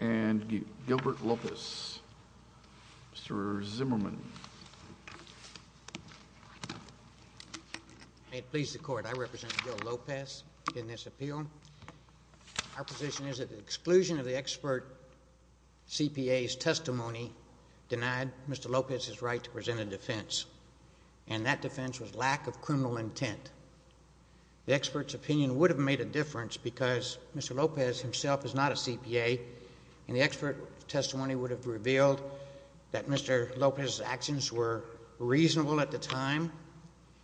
and Gilbert Lopez. Mr. Zimmerman. May it please the court, I represent Gil Lopez in this appeal. Our position is that the exclusion of the expert CPA's testimony denied Mr. Lopez his right to present a defense, and that defense was lack of criminal intent. The expert's opinion would have made a difference because Mr. Lopez himself is not a CPA, and the expert testimony would have revealed that Mr. Lopez's actions were reasonable at the time,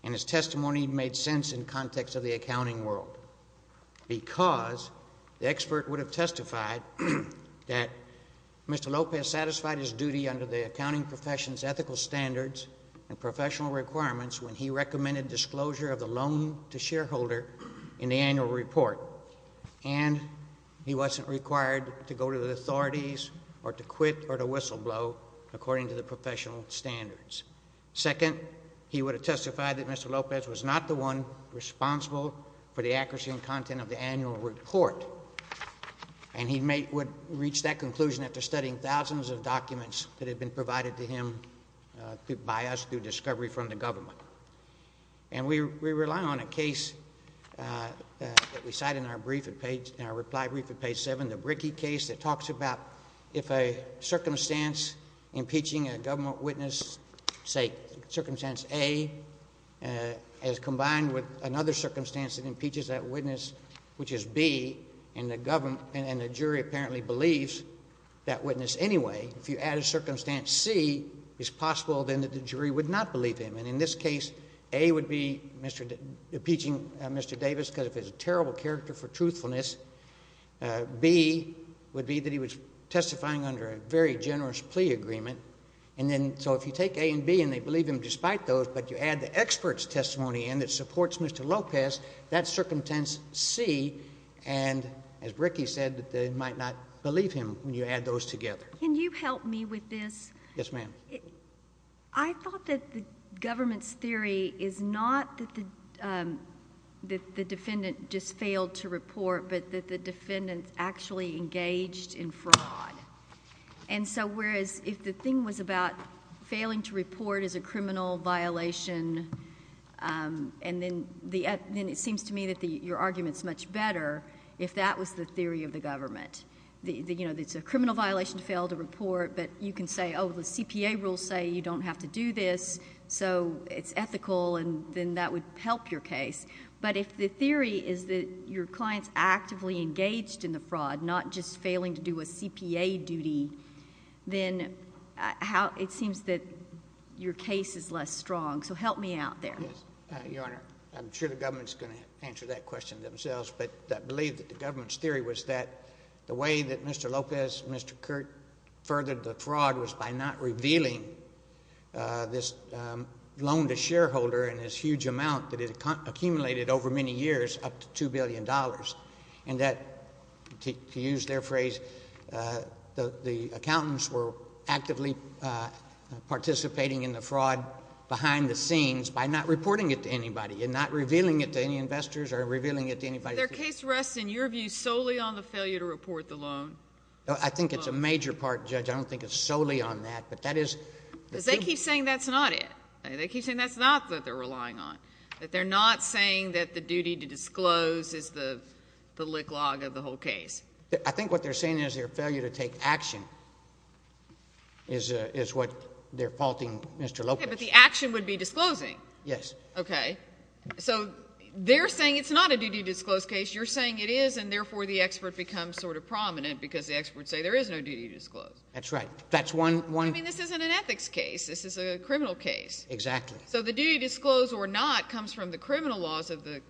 and his testimony made sense in the context of the accounting world. Because the expert would have testified that Mr. Lopez satisfied his duty under the accounting profession's ethical standards and professional requirements when he recommended disclosure of the loan to shareholder in the annual report, and he wasn't required to go to the authorities or to quit or to whistleblow according to the professional standards. Second, he would have testified that Mr. Lopez was not the one responsible for the accuracy and content of the annual report, and he would reach that conclusion after studying thousands of documents that had been provided to him by us through discovery from the government. And we rely on a case that we cite in our reply brief at page 7, the Brickey case, that talks about if a circumstance impeaching a government witness, say Circumstance A, is combined with another circumstance that impeaches that witness, which is B, and the jury apparently believes that witness anyway, if you add a Circumstance C, it's possible then that the jury would not believe him. And in this case, A would be impeaching Mr. Davis because of his terrible character for truthfulness. B would be that he was testifying under a very generous plea agreement. And then so if you take A and B and they believe him despite those, but you add the expert's testimony in that supports Mr. Lopez, that Circumstance C, and as Brickey said, they might not believe him when you add those together. Can you help me with this? Yes, ma'am. I thought that the government's theory is not that the defendant just failed to report, but that the defendant actually engaged in fraud. And so whereas if the thing was about failing to report as a criminal violation, and then it seems to me that your argument is much better if that was the theory of the government. You know, it's a criminal violation to fail to report, but you can say, oh, the CPA rules say you don't have to do this, so it's ethical, and then that would help your case. But if the theory is that your client's actively engaged in the fraud, not just failing to do a CPA duty, then it seems that your case is less strong. So help me out there. Yes. Your Honor, I'm sure the government's going to answer that question themselves, but I believe that the government's theory was that the way that Mr. Lopez and Mr. Curt furthered the fraud was by not revealing this loan to shareholder and this huge amount that it accumulated over many years, up to $2 billion, and that, to use their phrase, the accountants were actively participating in the fraud behind the scenes by not reporting it to anybody and not revealing it to any investors or revealing it to anybody. Their case rests, in your view, solely on the failure to report the loan? I think it's a major part, Judge. I don't think it's solely on that, but that is... Because they keep saying that's not it. They keep saying that's not what they're relying on, that they're not saying that the duty to disclose is the lick log of the whole case. I think what they're saying is their failure to take action is what they're faulting Mr. Lopez. Okay, but the action would be disclosing. Yes. Okay. So they're saying it's not a duty to disclose case. You're saying it is, and therefore the expert becomes sort of prominent because the experts say there is no duty to disclose. That's right. That's one... I mean, this isn't an ethics case. This is a criminal case. Exactly. So the duty to disclose or not comes from the criminal laws of the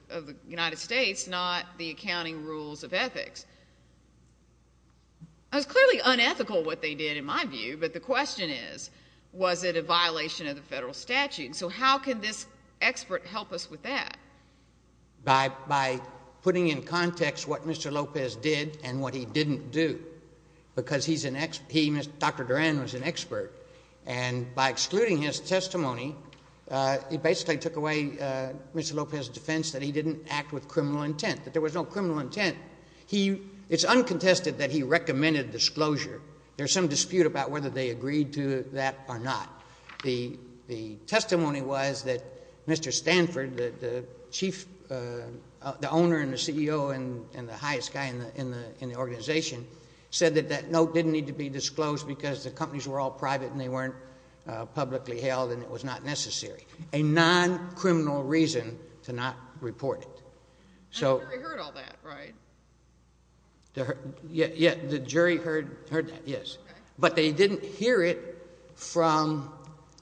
United States, not the accounting rules of ethics. It's clearly unethical what they did, in my view, but the question is, was it a violation of the federal statute? So how can this expert help us with that? By putting in context what Mr. Lopez did and what he didn't do, because he's an... Dr. Duran was an expert, and by excluding his testimony, he basically took away Mr. Lopez's defense that he didn't act with criminal intent, that there was no criminal intent. It's uncontested that he recommended disclosure. There's some dispute about whether they agreed to that or not. The testimony was that Mr. Stanford, the owner and the CEO and the highest guy in the organization, said that that note didn't need to be disclosed because the companies were all private and they weren't publicly held, and it was not necessary. A non-criminal reason to not report it, so... And the jury heard all that, right? Yeah, the jury heard that, yes, but they didn't hear it from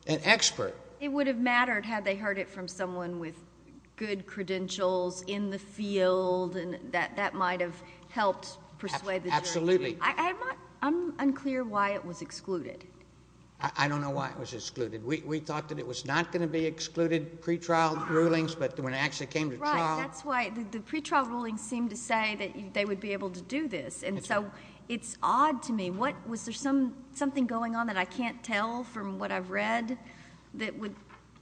an expert. It would have mattered had they heard it from someone with good credentials in the field and that might have helped persuade the jury. Absolutely. I'm unclear why it was excluded. I don't know why it was excluded. We thought that it was not going to be excluded, pretrial rulings, but when it actually came to trial... That's why the pretrial rulings seem to say that they would be able to do this, and so it's odd to me. Was there something going on that I can't tell from what I've read that would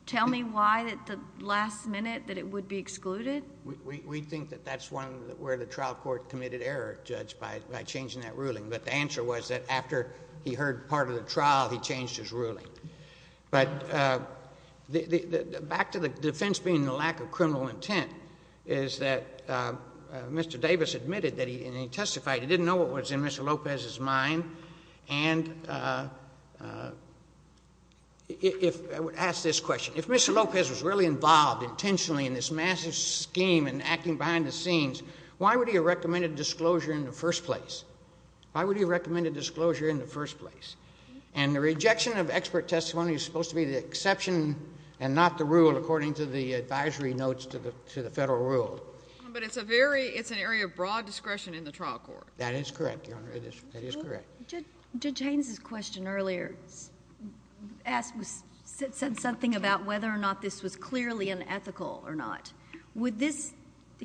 tell me why at the last minute that it would be excluded? We think that that's where the trial court committed error, Judge, by changing that ruling, but the answer was that after he heard part of the trial, he changed his ruling. But back to the defense being the lack of criminal intent, is that Mr. Davis admitted that he... And he testified he didn't know what was in Mr. Lopez's mind, and if... I would ask this question. If Mr. Lopez was really involved intentionally in this massive scheme and acting behind the scenes, why would he have recommended disclosure in the first place? Why would he have recommended disclosure in the first place? And the rejection of expert advisory notes to the Federal Rule. But it's a very... it's an area of broad discretion in the trial court. That is correct, Your Honor. That is correct. Judge Haynes' question earlier said something about whether or not this was clearly unethical or not. Would this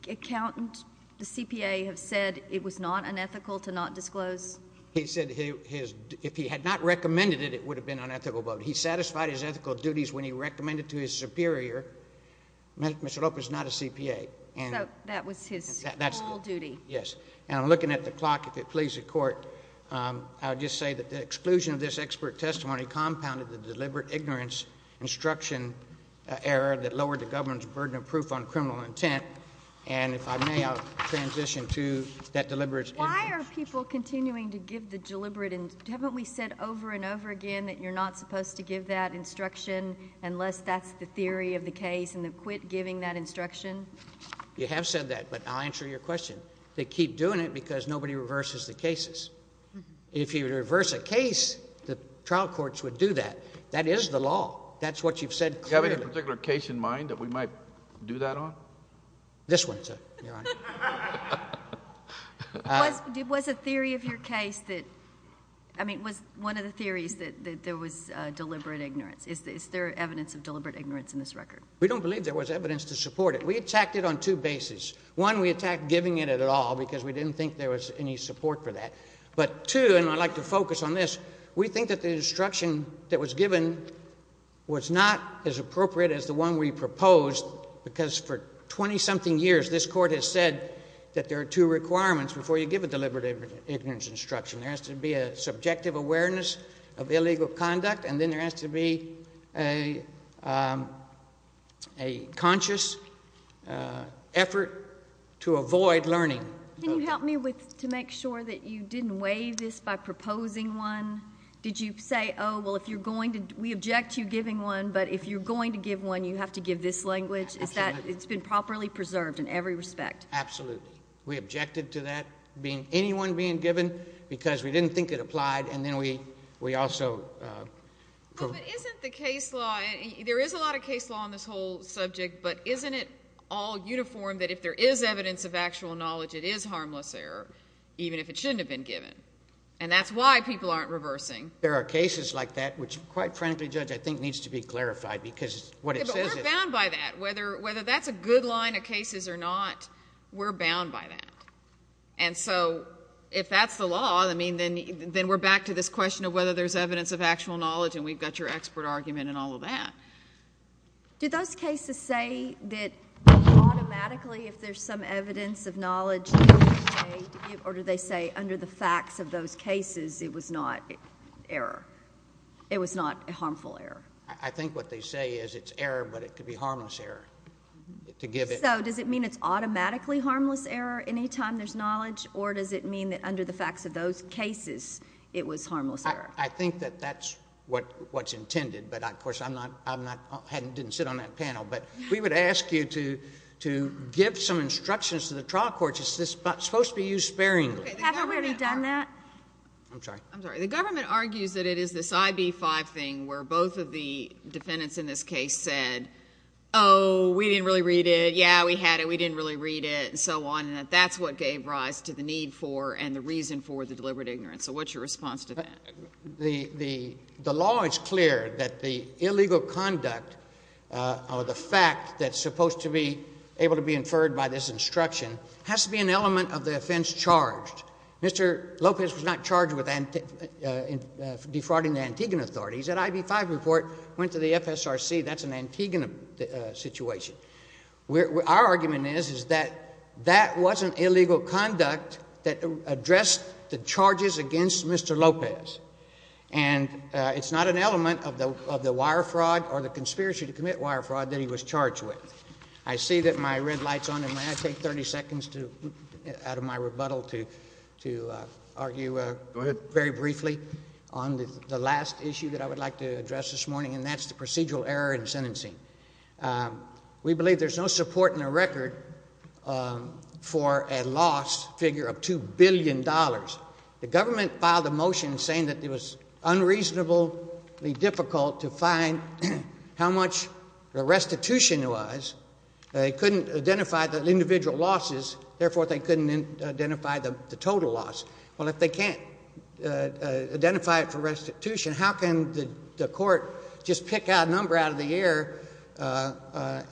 accountant, the CPA, have said it was not unethical to not disclose? He said if he had not recommended it, it would have been unethical. But he satisfied his superior. Mr. Lopez is not a CPA. So that was his full duty. Yes. And I'm looking at the clock, if it pleases the Court. I would just say that the exclusion of this expert testimony compounded the deliberate ignorance instruction error that lowered the government's burden of proof on criminal intent. And if I may, I'll transition to that deliberate... Why are people continuing to give the deliberate... haven't we said over and over again that you're not supposed to give that instruction unless that's the theory of the case and they've quit giving that instruction? You have said that, but I'll answer your question. They keep doing it because nobody reverses the cases. If you reverse a case, the trial courts would do that. That is the law. That's what you've said clearly. Do you have any particular case in mind that we might do that on? This one, sir, Your Honor. Was a theory of your case that... I mean, was one of the theories that there was deliberate ignorance? Is there evidence of deliberate ignorance in this record? We don't believe there was evidence to support it. We attacked it on two bases. One, we attacked giving it at all because we didn't think there was any support for that. But two, and I'd like to focus on this, we think that the instruction that was given was not as appropriate as the one we proposed because for twenty-something years this court has said that there are two requirements before you give a deliberate ignorance instruction. There has to be a subjective awareness of illegal conduct and then there has to be a conscious effort to avoid learning. Can you help me to make sure that you didn't weigh this by proposing one? Did you say, oh, well, if you're going to... we object to you giving one, but if you're going to give one, you have to give this language? Is that... it's been properly preserved in every respect? Absolutely. We objected to that being... anyone being given because we didn't think it applied and then we also... Well, but isn't the case law... there is a lot of case law on this whole subject, but isn't it all uniform that if there is evidence of actual knowledge, it is harmless error, even if it shouldn't have been given? And that's why people aren't reversing. There are cases like that which, quite frankly, Judge, I think needs to be clarified because what it says is... Yeah, but we're bound by that. Whether that's a good line of cases or not, we're bound by that. And so if that's the law, I mean, then we're back to this question of whether there's evidence of actual knowledge and we've got your expert argument and all of that. Did those cases say that automatically if there's some evidence of knowledge... or did they say under the facts of those cases it was not error, it was not a harmful error? I think what they say is it's error, but it could be harmless error to give it... So does it mean it's automatically harmless error anytime there's knowledge or does it mean that under the facts of those cases it was harmless error? I think that that's what's intended, but of course I'm not... I didn't sit on that panel, but we would ask you to give some instructions to the trial court. Is this supposed to be used sparingly? Haven't we already done that? I'm sorry. I'm sorry. The government argues that it is this IB-5 thing where both of the defendants in this case said, oh, we didn't really read it, yeah, we had it, we didn't really read it, and so on, and that that's what gave rise to the need for and the reason for the deliberate ignorance. So what's your response to that? The law is clear that the illegal conduct or the fact that's supposed to be able to be inferred by this instruction has to be an element of the offense charged. Mr. Lopez was not charged with defrauding the Antiguan authorities. That IB-5 report went to the FSRC. That's an Antiguan situation. Our argument is, is that that wasn't illegal conduct that addressed the charges against Mr. Lopez, and it's not an element of the wire fraud or the conspiracy to commit wire fraud that he was charged with. I see that my red light's on, and may I take 30 seconds out of my rebuttal to argue very briefly on the last issue that I would like to address this morning, and that's the procedural error in sentencing. We believe there's no support in the record for a loss figure of $2 billion. The government filed a motion saying that it was unreasonably difficult to find how much the restitution was. They couldn't identify the individual losses. Therefore, they couldn't identify the total loss. Well, if they can't identify it for restitution, how can the court just pick a number out of the air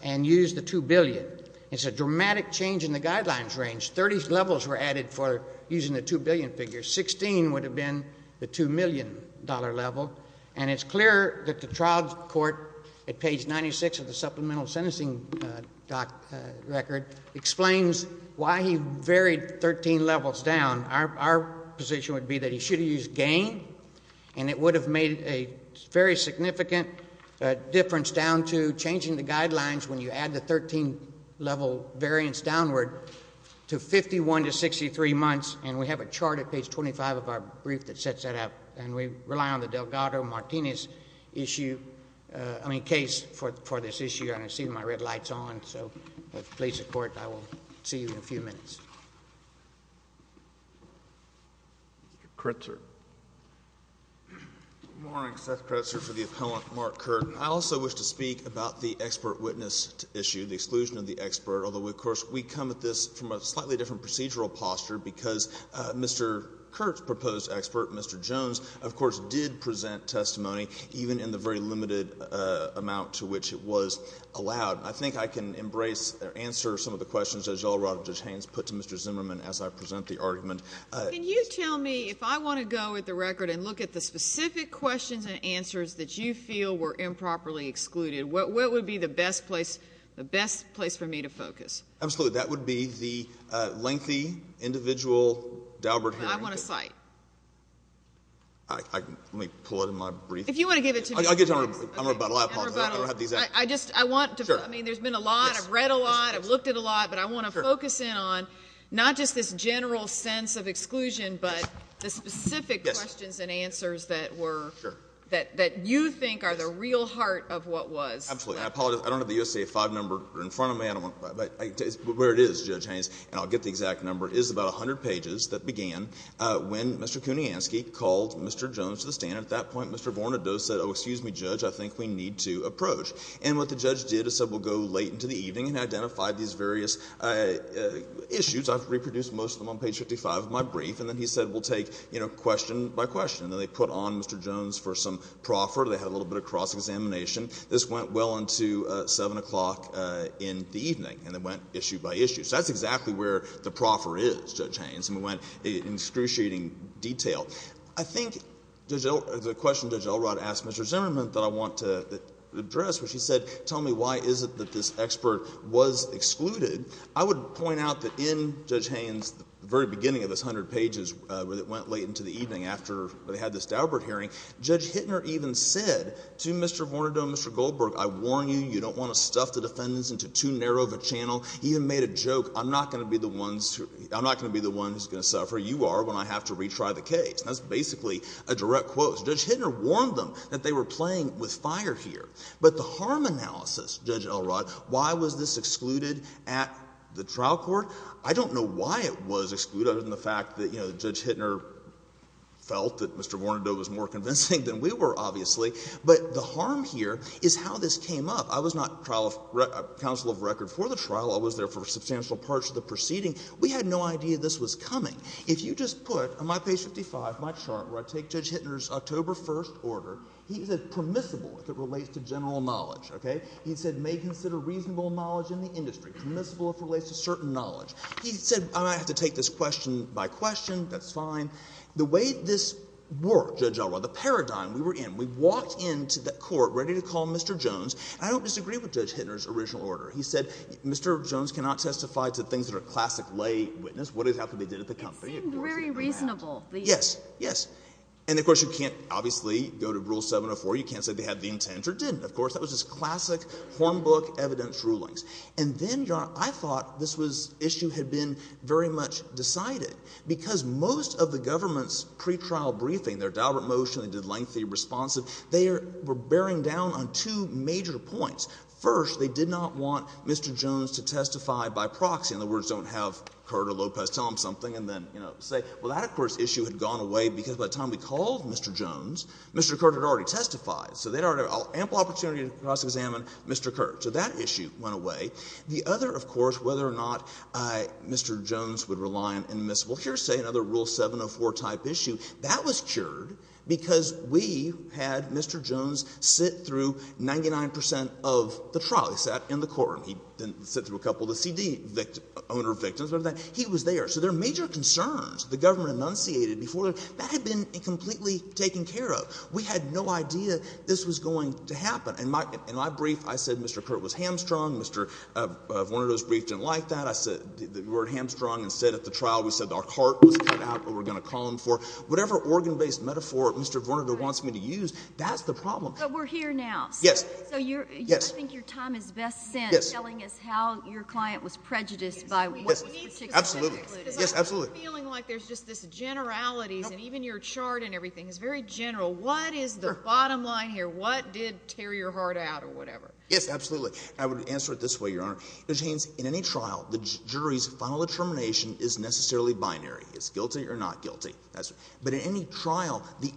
and use the $2 billion? It's a dramatic change in the guidelines range. 30 levels were added for using the $2 billion figure. 16 would have been the $2 million level, and it's clear that the trial court at page 96 of the supplemental sentencing record explains why he varied 13 levels down. Our position would be that he should have used gain, and it would have made a very significant difference down to changing the guidelines when you add the 13-level variance downward to 51 to 63 months, and we have a chart at page 25 of our brief that sets that up, and we rely on the Delgado-Martinez issue, I mean, case for this issue. I don't see my red lights on, so please support. I think I can embrace or answer some of the questions that Judge Haynes put to Mr. Zimmerman as I present the argument. Can you tell me, if I want to go at the record and look at the specific questions and answers that you feel were improperly excluded, what would be the best place for me to focus? Absolutely. That would be the lengthy, individual, Daubert hearing. I want to cite. Let me pull it in my brief. If you want to give it to me. I'll give it to you in rebuttal. In rebuttal. I apologize. I don't have the exact... I just, I want to... Sure. I mean, there's been a lot. I've read a lot. I've looked at a lot, but I want to focus in on not just this general sense of exclusion, but the specific questions and answers that were... Sure. ...that you think are the real heart of what was. Absolutely. I apologize. I don't have the U.S.A. 5 number in front of me, but where it is, Judge Haynes, and I'll get the exact number, is about 100 pages that began when Mr. Kuniansky called Mr. Jones to the stand. At that point, Mr. Vornadoe said, oh, excuse me, Judge, I think we need to approach. And what the judge did is said, we'll go late into the evening and identify these various issues. I've reproduced most of them on page 55 of my brief. And then he said, we'll take, you know, question by question. And then they put on Mr. Jones for some proffer. They had a little bit of cross-examination. This went well into 7 o'clock in the evening. And it went issue by issue. So that's exactly where the proffer is, Judge Haynes. And we went in excruciating detail. I think Judge Elrod, the question Judge Elrod asked Mr. Zimmerman that I want to address, where she said, tell me why is it that this expert was excluded, I would point out that in Judge Haynes, the very beginning of this 100 pages, where it went late into the evening after they had this Daubert hearing, Judge Hittner even said to Mr. Vornadoe and Mr. Goldberg, I warn you, you don't want to stuff the defendants into too narrow of a channel. He even made a joke, I'm not going to be the one who's going to suffer, you are, when I have to retry the case. That's basically a direct quote. Judge Hittner warned them that they were playing with fire here. But the harm analysis, Judge Elrod, why was this excluded at the trial court, I don't know why it was excluded other than the fact that Judge Hittner felt that Mr. Vornadoe was more convincing than we were, obviously. But the harm here is how this came up. I was not counsel of record for the trial. I was there for substantial parts of the proceeding. We had no idea this was coming. If you just put on my page 55, my chart, where I take Judge Hittner's October 1st order, he said permissible if it relates to general knowledge. He said may consider reasonable knowledge in the industry, permissible if it relates to certain knowledge. He said I'm going to have to take this question by question, that's fine. The way this worked, Judge Elrod, the paradigm we were in, we walked into the court ready to call Mr. Jones. I don't disagree with Judge Hittner's original order. He said Mr. Jones cannot testify to things that are classic lay witness. What exactly they did at the company. It seemed very reasonable. Yes, yes. And of course you can't obviously go to Rule 704, you can't say they had the intent, or didn't, of course. That was just classic, hornbook evidence rulings. And then, Your Honor, I thought this issue had been very much decided, because most of the government's pretrial briefing, their deliberate motion, they did lengthy responsive, they were bearing down on two major points. First, they did not want Mr. Jones to testify by proxy. In other words, don't have Curt or Lopez tell him something and then, you know, say, well, that, of course, issue had gone away because by the time we called Mr. Jones, Mr. Curt had already testified. So they had ample opportunity to cross-examine Mr. Curt. So that issue went away. The other, of course, whether or not Mr. Jones would rely on admissible hearsay, another Rule 704 type issue, that was cured because we had Mr. Jones sit through 99% of the trial. He sat in the courtroom. He didn't sit through a couple of the CD owner victims. He was there. So there are major concerns the government enunciated before. That had been completely taken care of. We had no idea this was going to happen. In my brief, I said Mr. Curt was hamstrung. Mr. Vornado's brief didn't like that. I said, the word hamstrung, instead at the trial, we said our cart was cut out or we're going to call him for it. Whatever organ-based metaphor Mr. Vornado wants me to use, that's the problem. But we're here now. Yes. So I think your time is best spent telling us how your client was prejudiced by what was particularly included. Absolutely. Yes, absolutely. Because I'm feeling like there's just this generality and even your chart and everything is very general. What is the bottom line here? What did tear your heart out or whatever? Yes, absolutely. I would answer it this way, Your Honor. In any trial, the jury's final determination is necessarily binary. It's guilty or not guilty. But in any trial, the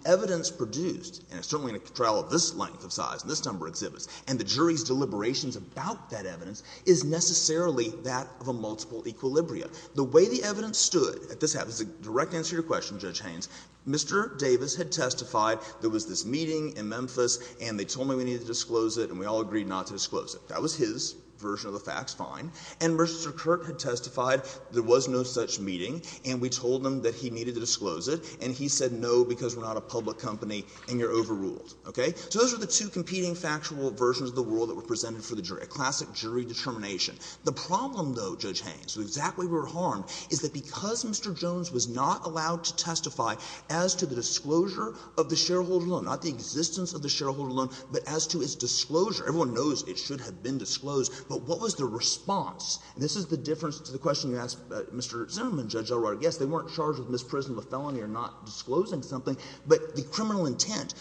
trial of this length of size and this number of exhibits and the jury's deliberations about that evidence is necessarily that of a multiple equilibria. The way the evidence stood at this time is a direct answer to your question, Judge Haynes. Mr. Davis had testified there was this meeting in Memphis and they told me we needed to disclose it and we all agreed not to disclose it. That was his version of the facts, fine. And Mr. Curt had testified there was no such meeting and we told him that he needed to disclose it and he said no because we're not a public company and you're overruled. Okay? So those are the two competing factual versions of the world that were presented for the jury, a classic jury determination. The problem, though, Judge Haynes, with exactly where we're harmed, is that because Mr. Jones was not allowed to testify as to the disclosure of the shareholder loan, not the existence of the shareholder loan, but as to its disclosure, everyone knows it should have been disclosed, but what was the response? And this is the difference to the question you asked Mr. Zimmerman, Judge Elrodic. Yes, they weren't charged with misprision of a felony or not disclosing something, but the criminal intent.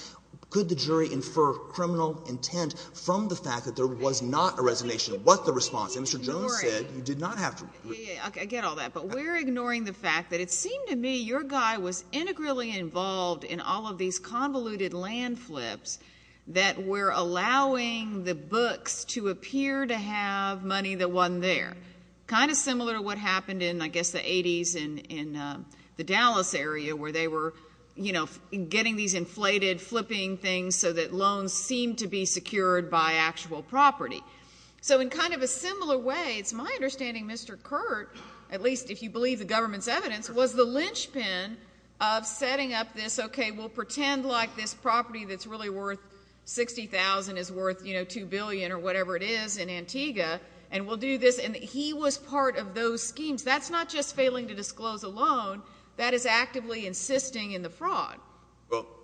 Could the jury infer criminal intent from the fact that there was not a resignation? What's the response? And Mr. Jones said you did not have to. I get all that, but we're ignoring the fact that it seemed to me your guy was integrally involved in all of these convoluted land flips that were allowing the books to appear to have money that wasn't there. Kind of similar to what happened in, I guess, the 80s in the Dallas area where they were getting these inflated, flipping things so that loans seemed to be secured by actual property. So in kind of a similar way, it's my understanding Mr. Curt, at least if you believe the government's evidence, was the linchpin of setting up this, okay, we'll pretend like this property that's really worth $60,000 is worth $2 billion or whatever it is in Antigua, and we'll do this. And he was part of those schemes. That's not just failing to disclose a loan. That is actively insisting in the fraud.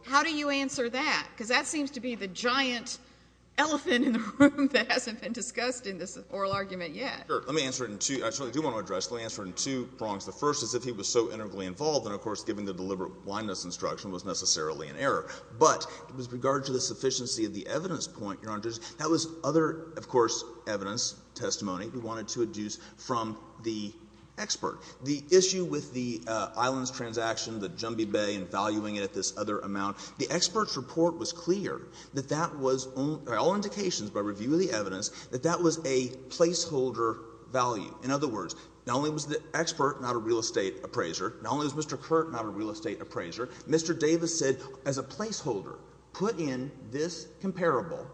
How do you answer that? Because that seems to be the giant elephant in the room that hasn't been discussed in this oral argument yet. Sure. Let me answer it in two – I certainly do want to address it. Let me answer it in two prongs. The first is if he was so integrally involved, then of course giving the deliberate blindness instruction was necessarily an error. But with regard to the sufficiency of the evidence point, Your Honor, that was other, of course, evidence, testimony we wanted to adduce from the expert. The issue with the islands transaction, the Jumbie Bay, and valuing it at this other amount, the expert's report was clear that that was – by all indications, by review of the evidence, that that was a placeholder value. In other words, not only was the expert not a real estate appraiser, not only was Mr. Curt not a real estate appraiser, Mr. Davis said as a placeholder, put in this comparable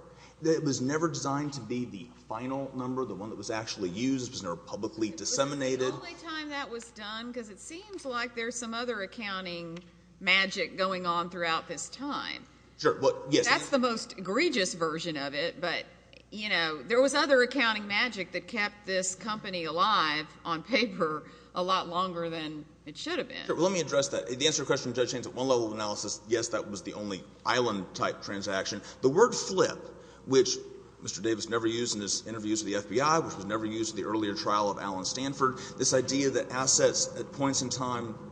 that was never designed to be the final number, the one that was actually used, was never publicly disseminated. But it was the only time that was done because it seems like there's some other accounting magic going on throughout this time. Sure. Well, yes. That's the most egregious version of it, but, you know, there was other accounting magic that kept this company alive on paper a lot longer than it should have been. Sure. Well, let me address that. The answer to your question, Judge Haines, at one level of analysis, yes, that was the only island-type transaction. The word flip, which Mr. Davis never used in his interviews with the FBI, which was never used in the earlier trial of Alan Stanford, this idea that assets at points in time –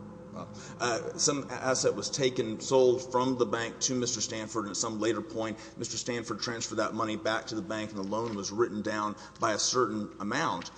some asset was taken, sold from the bank to Mr. Stanford, and at some later point Mr. Stanford transferred that money back to the bank and the loan was written down by a certain amount.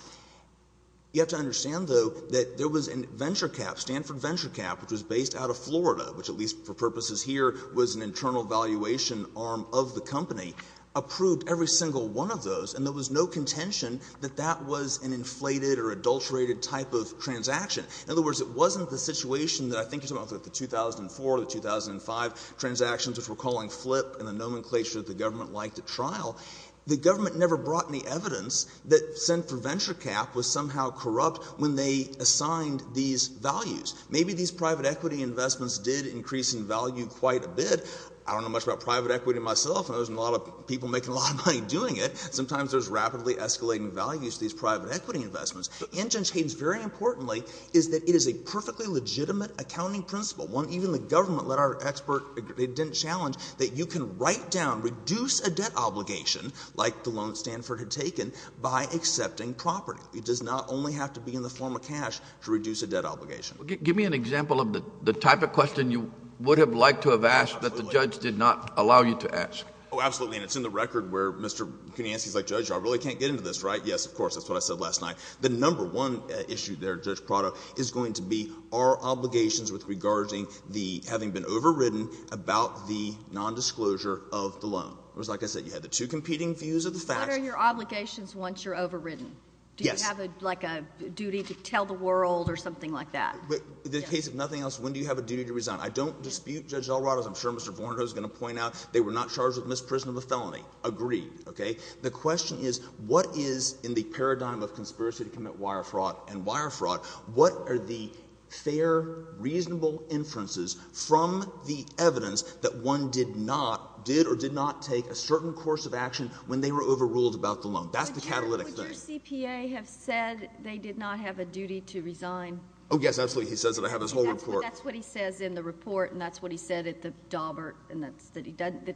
You have to understand, though, that there was a venture cap, Stanford venture cap, which was based out of Florida, which, at least for purposes here, was an internal valuation arm of the company, approved every single one of those, and there was no contention that that was an inflated or adulterated type of transaction. In other words, it wasn't the situation that I think you're talking about with the 2004, the 2005 transactions, which we're calling flip in the nomenclature that the government liked at trial. The government never brought any evidence that Stanford venture cap was somehow corrupt when they assigned these values. Maybe these private equity investments did increase in value quite a bit. I don't know much about private equity myself. There wasn't a lot of people making a lot of money doing it. Sometimes there's rapidly escalating values to these private equity investments. The engine change, very importantly, is that it is a perfectly legitimate accounting principle. Even the government let our expert, they didn't challenge, that you can write down, reduce a debt obligation like the loan Stanford had taken by accepting property. It does not only have to be in the form of cash to reduce a debt obligation. Give me an example of the type of question you would have liked to have asked that the judge did not allow you to ask. Oh, absolutely. And it's in the record where Mr. Kunansky's like, Judge, I really can't get into this, right? Yes, of course. That's what I said last night. The number one issue there, Judge Prado, is going to be our obligations with regarding the having been overridden about the nondisclosure of the loan. It was like I said, you had the two competing views of the facts. What are your obligations once you're overridden? Yes. Do you have like a duty to tell the world or something like that? In the case of nothing else, when do you have a duty to resign? I don't dispute Judge Delrado's. I'm sure Mr. Vornhose is going to point out they were not charged with misprison of a felony. Agreed. Okay. The question is what is in the paradigm of conspiracy to commit wire fraud and wire fraud, what are the fair, reasonable inferences from the evidence that one did not, did or did not take a certain course of action when they were overruled about the loan? That's the catalytic thing. Would your CPA have said they did not have a duty to resign? Oh, yes. Absolutely. He says that. I have his whole report. That's what he says in the report, and that's what he said at the Daubert.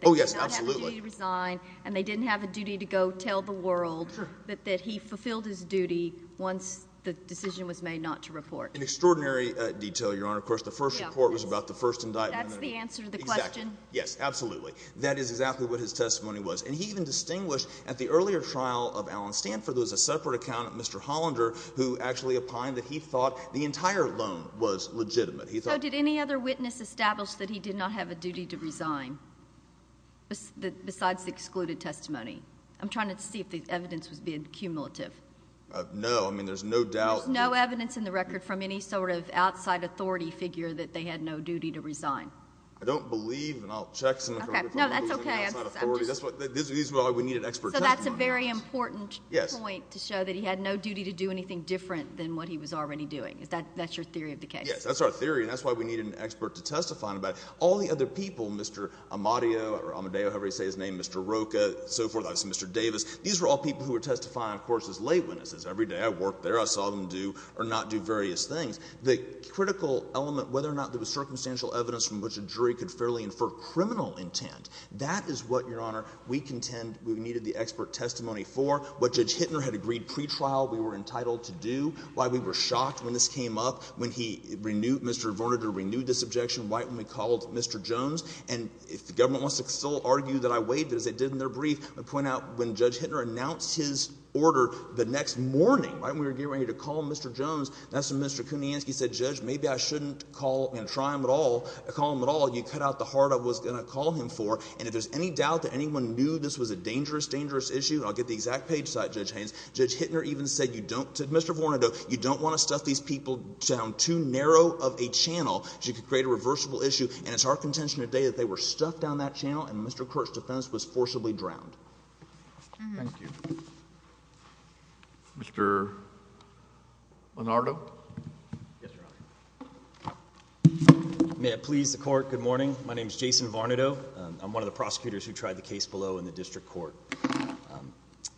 Oh, yes. Absolutely. That they did not have a duty to resign, and they didn't have a duty to go tell the world that he fulfilled his duty once the decision was made not to report. In extraordinary detail, Your Honor. Of course, the first report was about the first indictment. That's the answer to the question? Exactly. Yes. Absolutely. That is exactly what his testimony was. And he even distinguished at the earlier trial of Allen Stanford, there was a separate account of Mr. Hollander, who actually opined that he thought the entire loan was legitimate. So did any other witness establish that he did not have a duty to resign besides the excluded testimony? I'm trying to see if the evidence was being cumulative. No. I mean, there's no doubt. There's no evidence in the record from any sort of outside authority figure that they had no duty to resign. I don't believe, and I'll check some of it. No, that's okay. That's not authority. That's why we needed expert testimony. So that's a very important point to show that he had no duty to do anything different than what he was already doing. That's your theory of the case? Yes. That's our theory, and that's why we needed an expert to testify on it. All the other people, Mr. Amadeo, however you say his name, Mr. Rocha, so forth, I've seen Mr. Davis, these were all people who were testifying, of course, as lay witnesses. Every day I worked there, I saw them do or not do various things. The critical element, whether or not there was circumstantial evidence from which a jury could fairly infer criminal intent, that is what, Your Honor, we contend we needed the expert testimony for. What Judge Hittner had agreed pretrial we were entitled to do. Why we were shocked when this came up, when he renewed, Mr. Vorniger renewed this objection right when we called Mr. Jones. And if the government wants to still argue that I waived it as they did in their brief, I point out when Judge Hittner announced his order the next morning, right when we were getting ready to call Mr. Jones, that's when Mr. Kuniansky said, Judge, maybe I shouldn't call and try him at all, call him at all. You cut out the heart I was going to call him for. And if there's any doubt that anyone knew this was a dangerous, dangerous issue, I'll get the exact page site, Judge Haynes. Judge Hittner even said you don't, said Mr. Vorniger, you don't want to stuff these people down too narrow of a channel so you could create a reversible issue. And it's our contention today that they were stuffed down that channel and Mr. Court's defense was forcibly drowned. Mr. Leonardo. Yes, Your Honor. May it please the court. Good morning. My name is Jason Varnado. I'm one of the prosecutors who tried the case below in the district court.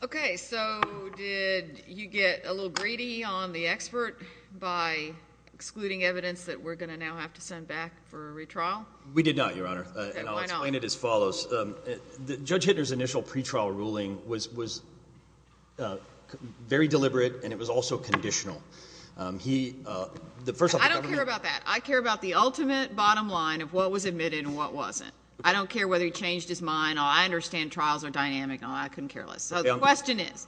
Okay. So did you get a little greedy on the expert by excluding evidence that we're going to now have to send back for a retrial? We did not, Your Honor. And I'll explain it as follows. Judge Hittner's initial pretrial ruling was very deliberate and it was also conditional. I don't care about that. I care about the ultimate bottom line of what was admitted and what wasn't. I don't care whether he changed his mind. I understand trials are dynamic. I couldn't care less. So the question is,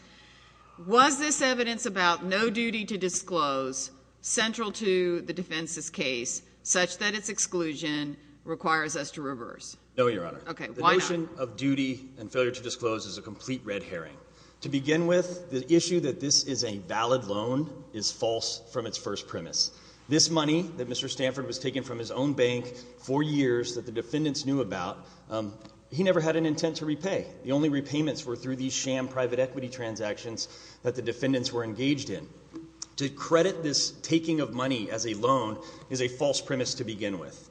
was this evidence about no duty to disclose central to the defense's case such that its exclusion requires us to reverse? No, Your Honor. Okay, why not? The notion of duty and failure to disclose is a complete red herring. To begin with, the issue that this is a valid loan is false from its first premise. This money that Mr. Stanford was taking from his own bank for years that the defendants knew about, he never had an intent to repay. The only repayments were through these sham private equity transactions that the defendants were engaged in. To credit this taking of money as a loan is a false premise to begin with.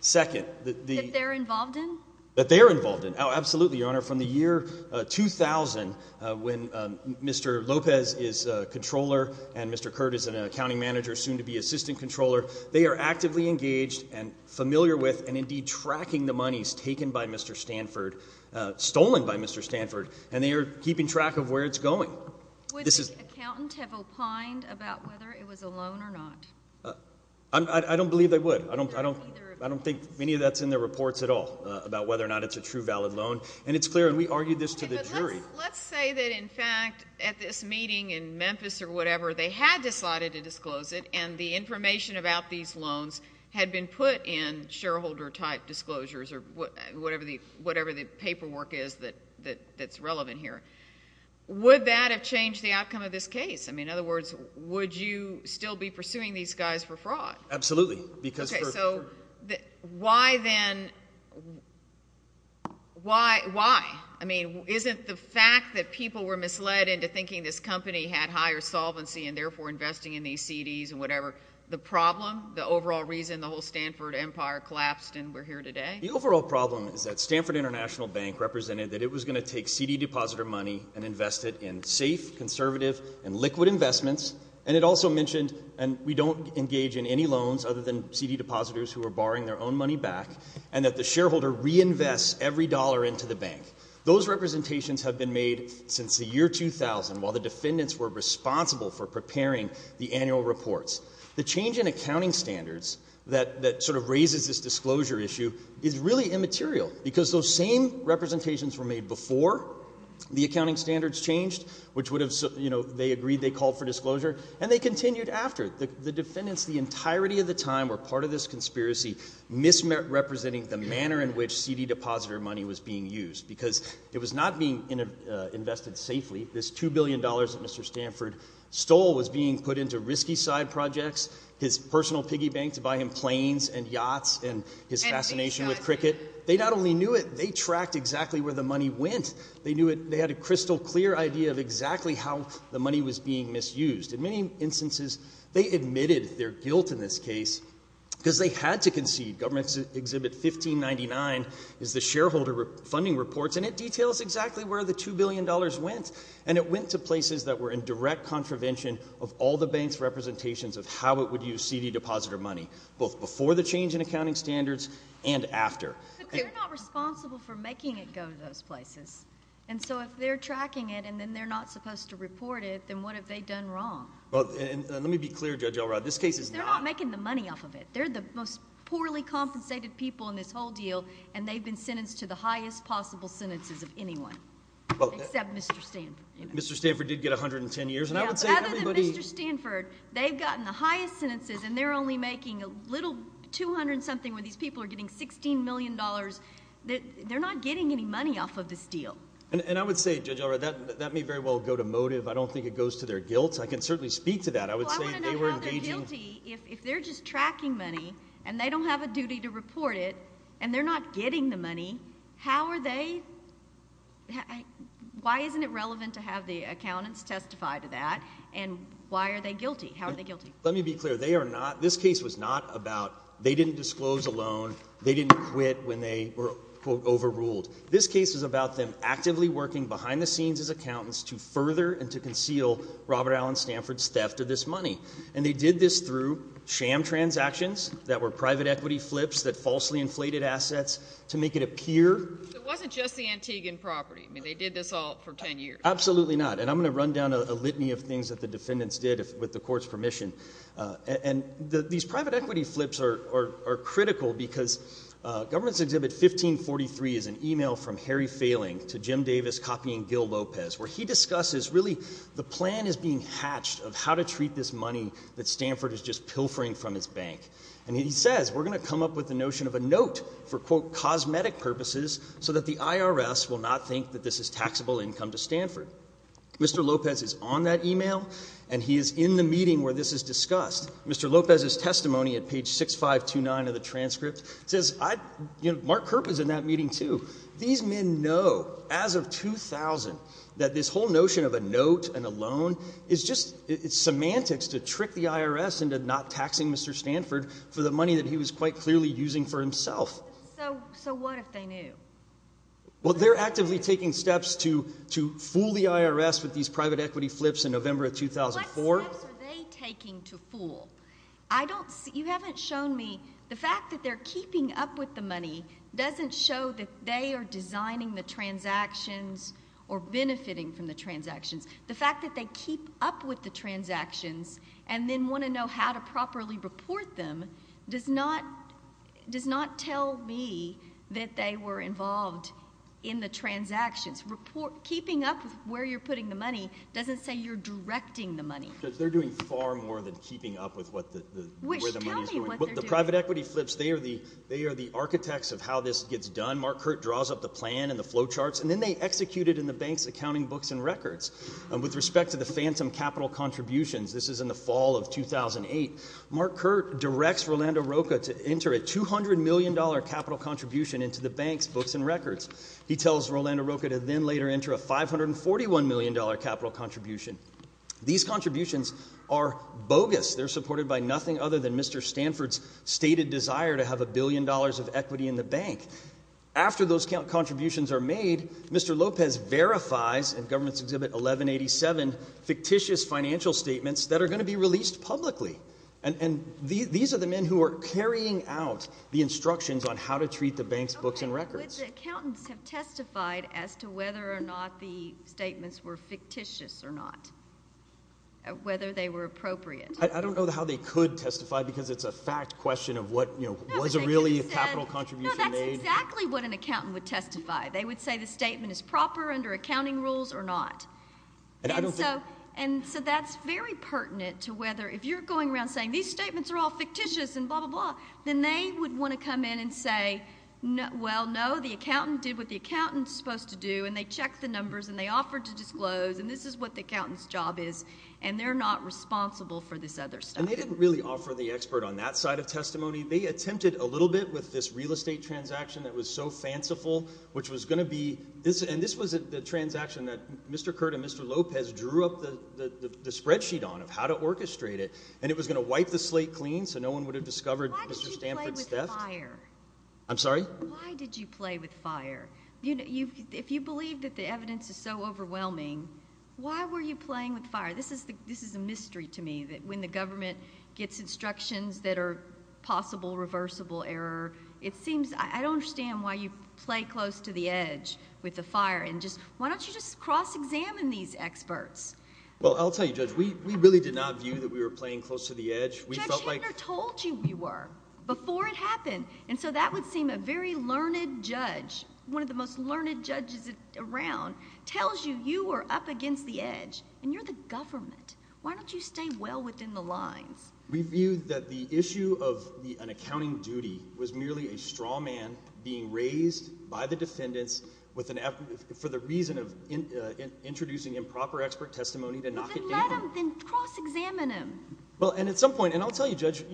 Second, the— That they're involved in? That they're involved in. Absolutely, Your Honor. From the year 2000 when Mr. Lopez is a controller and Mr. Curt is an accounting manager, soon to be assistant controller, they are actively engaged and familiar with and indeed tracking the monies taken by Mr. Stanford, stolen by Mr. Stanford, and they are keeping track of where it's going. Would the accountant have opined about whether it was a loan or not? I don't believe they would. I don't think any of that's in their reports at all about whether or not it's a true valid loan, and it's clear, and we argued this to the jury. Let's say that, in fact, at this meeting in Memphis or whatever, they had decided to disclose it and the information about these loans had been put in shareholder-type disclosures or whatever the paperwork is that's relevant here. Would that have changed the outcome of this case? In other words, would you still be pursuing these guys for fraud? Absolutely. Okay, so why, then, why? I mean, isn't the fact that people were misled into thinking this company had higher solvency and therefore investing in these CDs and whatever the problem, the overall reason the whole Stanford empire collapsed and we're here today? The overall problem is that Stanford International Bank represented that it was going to take CD depositor money and invest it in safe, conservative, and liquid investments, and it also mentioned, and we don't engage in any loans other than CD depositors who are borrowing their own money back, and that the shareholder reinvests every dollar into the bank. Those representations have been made since the year 2000, while the defendants were responsible for preparing the annual reports. The change in accounting standards that sort of raises this disclosure issue is really immaterial because those same representations were made before the accounting standards changed, which would have, you know, they agreed they called for disclosure, and they continued after. The defendants the entirety of the time were part of this conspiracy, misrepresenting the manner in which CD depositor money was being used because it was not being invested safely. This $2 billion that Mr. Stanford stole was being put into risky side projects, his personal piggy bank to buy him planes and yachts and his fascination with cricket. They not only knew it, they tracked exactly where the money went. They knew it, they had a crystal clear idea of exactly how the money was being misused. In many instances, they admitted their guilt in this case because they had to concede. Government Exhibit 1599 is the shareholder funding reports, and it details exactly where the $2 billion went, and it went to places that were in direct contravention of all the banks' representations of how it would use CD depositor money, both before the change in accounting standards and after. But they're not responsible for making it go to those places, and so if they're tracking it and then they're not supposed to report it, then what have they done wrong? Well, and let me be clear, Judge Elrod, this case is not... Because they're not making the money off of it. They're the most poorly compensated people in this whole deal, and they've been sentenced to the highest possible sentences of anyone, except Mr. Stanford. Mr. Stanford did get 110 years, and I would say everybody... Yeah, but other than Mr. Stanford, they've gotten the highest sentences, and they're only making a little $200-something when these people are getting $16 million. They're not getting any money off of this deal. And I would say, Judge Elrod, that may very well go to motive. I don't think it goes to their guilt. I can certainly speak to that. I would say they were engaging... Well, I want to know how they're guilty if they're just tracking money, and they don't have a duty to report it, and they're not getting the money. How are they... why isn't it relevant to have the accountants testify to that, and why are they guilty? How are they guilty? Let me be clear. They are not... this case was not about... they didn't disclose a loan. They didn't quit when they were, quote, overruled. This case is about them actively working behind the scenes as accountants to further and to conceal Robert Allen Stanford's theft of this money, and they did this through sham transactions that were private equity flips that falsely inflated assets to make it appear... It wasn't just the Antiguan property. I mean, they did this all for 10 years. Absolutely not, and I'm going to run down a litany of things that the defendants did with the court's permission, and these private equity flips are critical because Governance Exhibit 1543 is an email from Harry Failing to Jim Davis copying Gil Lopez where he discusses really the plan is being hatched of how to treat this money that Stanford is just pilfering from his bank, and he says, we're going to come up with the notion of a note for, quote, cosmetic purposes so that the IRS will not think that this is taxable income to Stanford. Mr. Lopez is on that email, and he is in the meeting where this is discussed. Mr. Lopez's testimony at page 6529 of the transcript says I... Mark Kerp is in that meeting too. These men know as of 2000 that this whole notion of a note and a loan is just semantics to trick the IRS into not taxing Mr. Stanford for the money that he was quite clearly using for himself. So what if they knew? Well, they're actively taking steps to fool the IRS with these private equity flips in November of 2004. What steps are they taking to fool? You haven't shown me the fact that they're keeping up with the money doesn't show that they are designing the transactions or benefiting from the transactions. The fact that they keep up with the transactions and then want to know how to properly report them does not tell me that they were involved in the transactions. Keeping up with where you're putting the money doesn't say you're directing the money. They're doing far more than keeping up with where the money is going. Wish, tell me what they're doing. The private equity flips, they are the architects of how this gets done. Mark Kerp draws up the plan and the flow charts, and then they execute it in the bank's accounting books and records. With respect to the phantom capital contributions, this is in the fall of 2008, Mark Kerp directs Rolando Roca to enter a $200 million capital contribution into the bank's books and records. He tells Rolando Roca to then later enter a $541 million capital contribution. These contributions are bogus. They're supported by nothing other than Mr. Stanford's stated desire to have a billion dollars of equity in the bank. After those contributions are made, Mr. Lopez verifies in Government's Exhibit 1187 fictitious financial statements that are going to be released publicly. These are the men who are carrying out the instructions on how to treat the bank's books and records. Would the accountants have testified as to whether or not the statements were fictitious or not, whether they were appropriate? I don't know how they could testify because it's a fact question of what, you know, was it really a capital contribution made? No, that's exactly what an accountant would testify. They would say the statement is proper under accounting rules or not. And so that's very pertinent to whether if you're going around saying these statements are all fictitious and blah, blah, blah, then they would want to come in and say, well, no, the accountant did what the accountant's supposed to do, and they checked the numbers, and they offered to disclose, and this is what the accountant's job is, and they're not responsible for this other stuff. And they didn't really offer the expert on that side of testimony. They attempted a little bit with this real estate transaction that was so fanciful, which was going to be this, and this was the transaction that Mr. Curt and Mr. Lopez drew up the spreadsheet on of how to orchestrate it, and it was going to wipe the slate clean so no one would have discovered Mr. Stanford's theft. Why did you play with fire? I'm sorry? Why did you play with fire? If you believe that the evidence is so overwhelming, why were you playing with fire? This is a mystery to me, that when the government gets instructions that are possible reversible error, it seems... I don't understand why you play close to the edge with the fire. Why don't you just cross-examine these experts? Well, I'll tell you, Judge, we really did not view that we were playing close to the edge. Judge Hittner told you you were before it happened, and so that would seem a very learned judge, one of the most learned judges around, tells you you were up against the edge, and you're the government. Why don't you stay well within the lines? We viewed that the issue of an accounting duty was merely a straw man being raised by the defendants for the reason of introducing improper expert testimony to knock it down. Then let him. Then cross-examine him. Well, and at some point, and I'll tell you, Judge,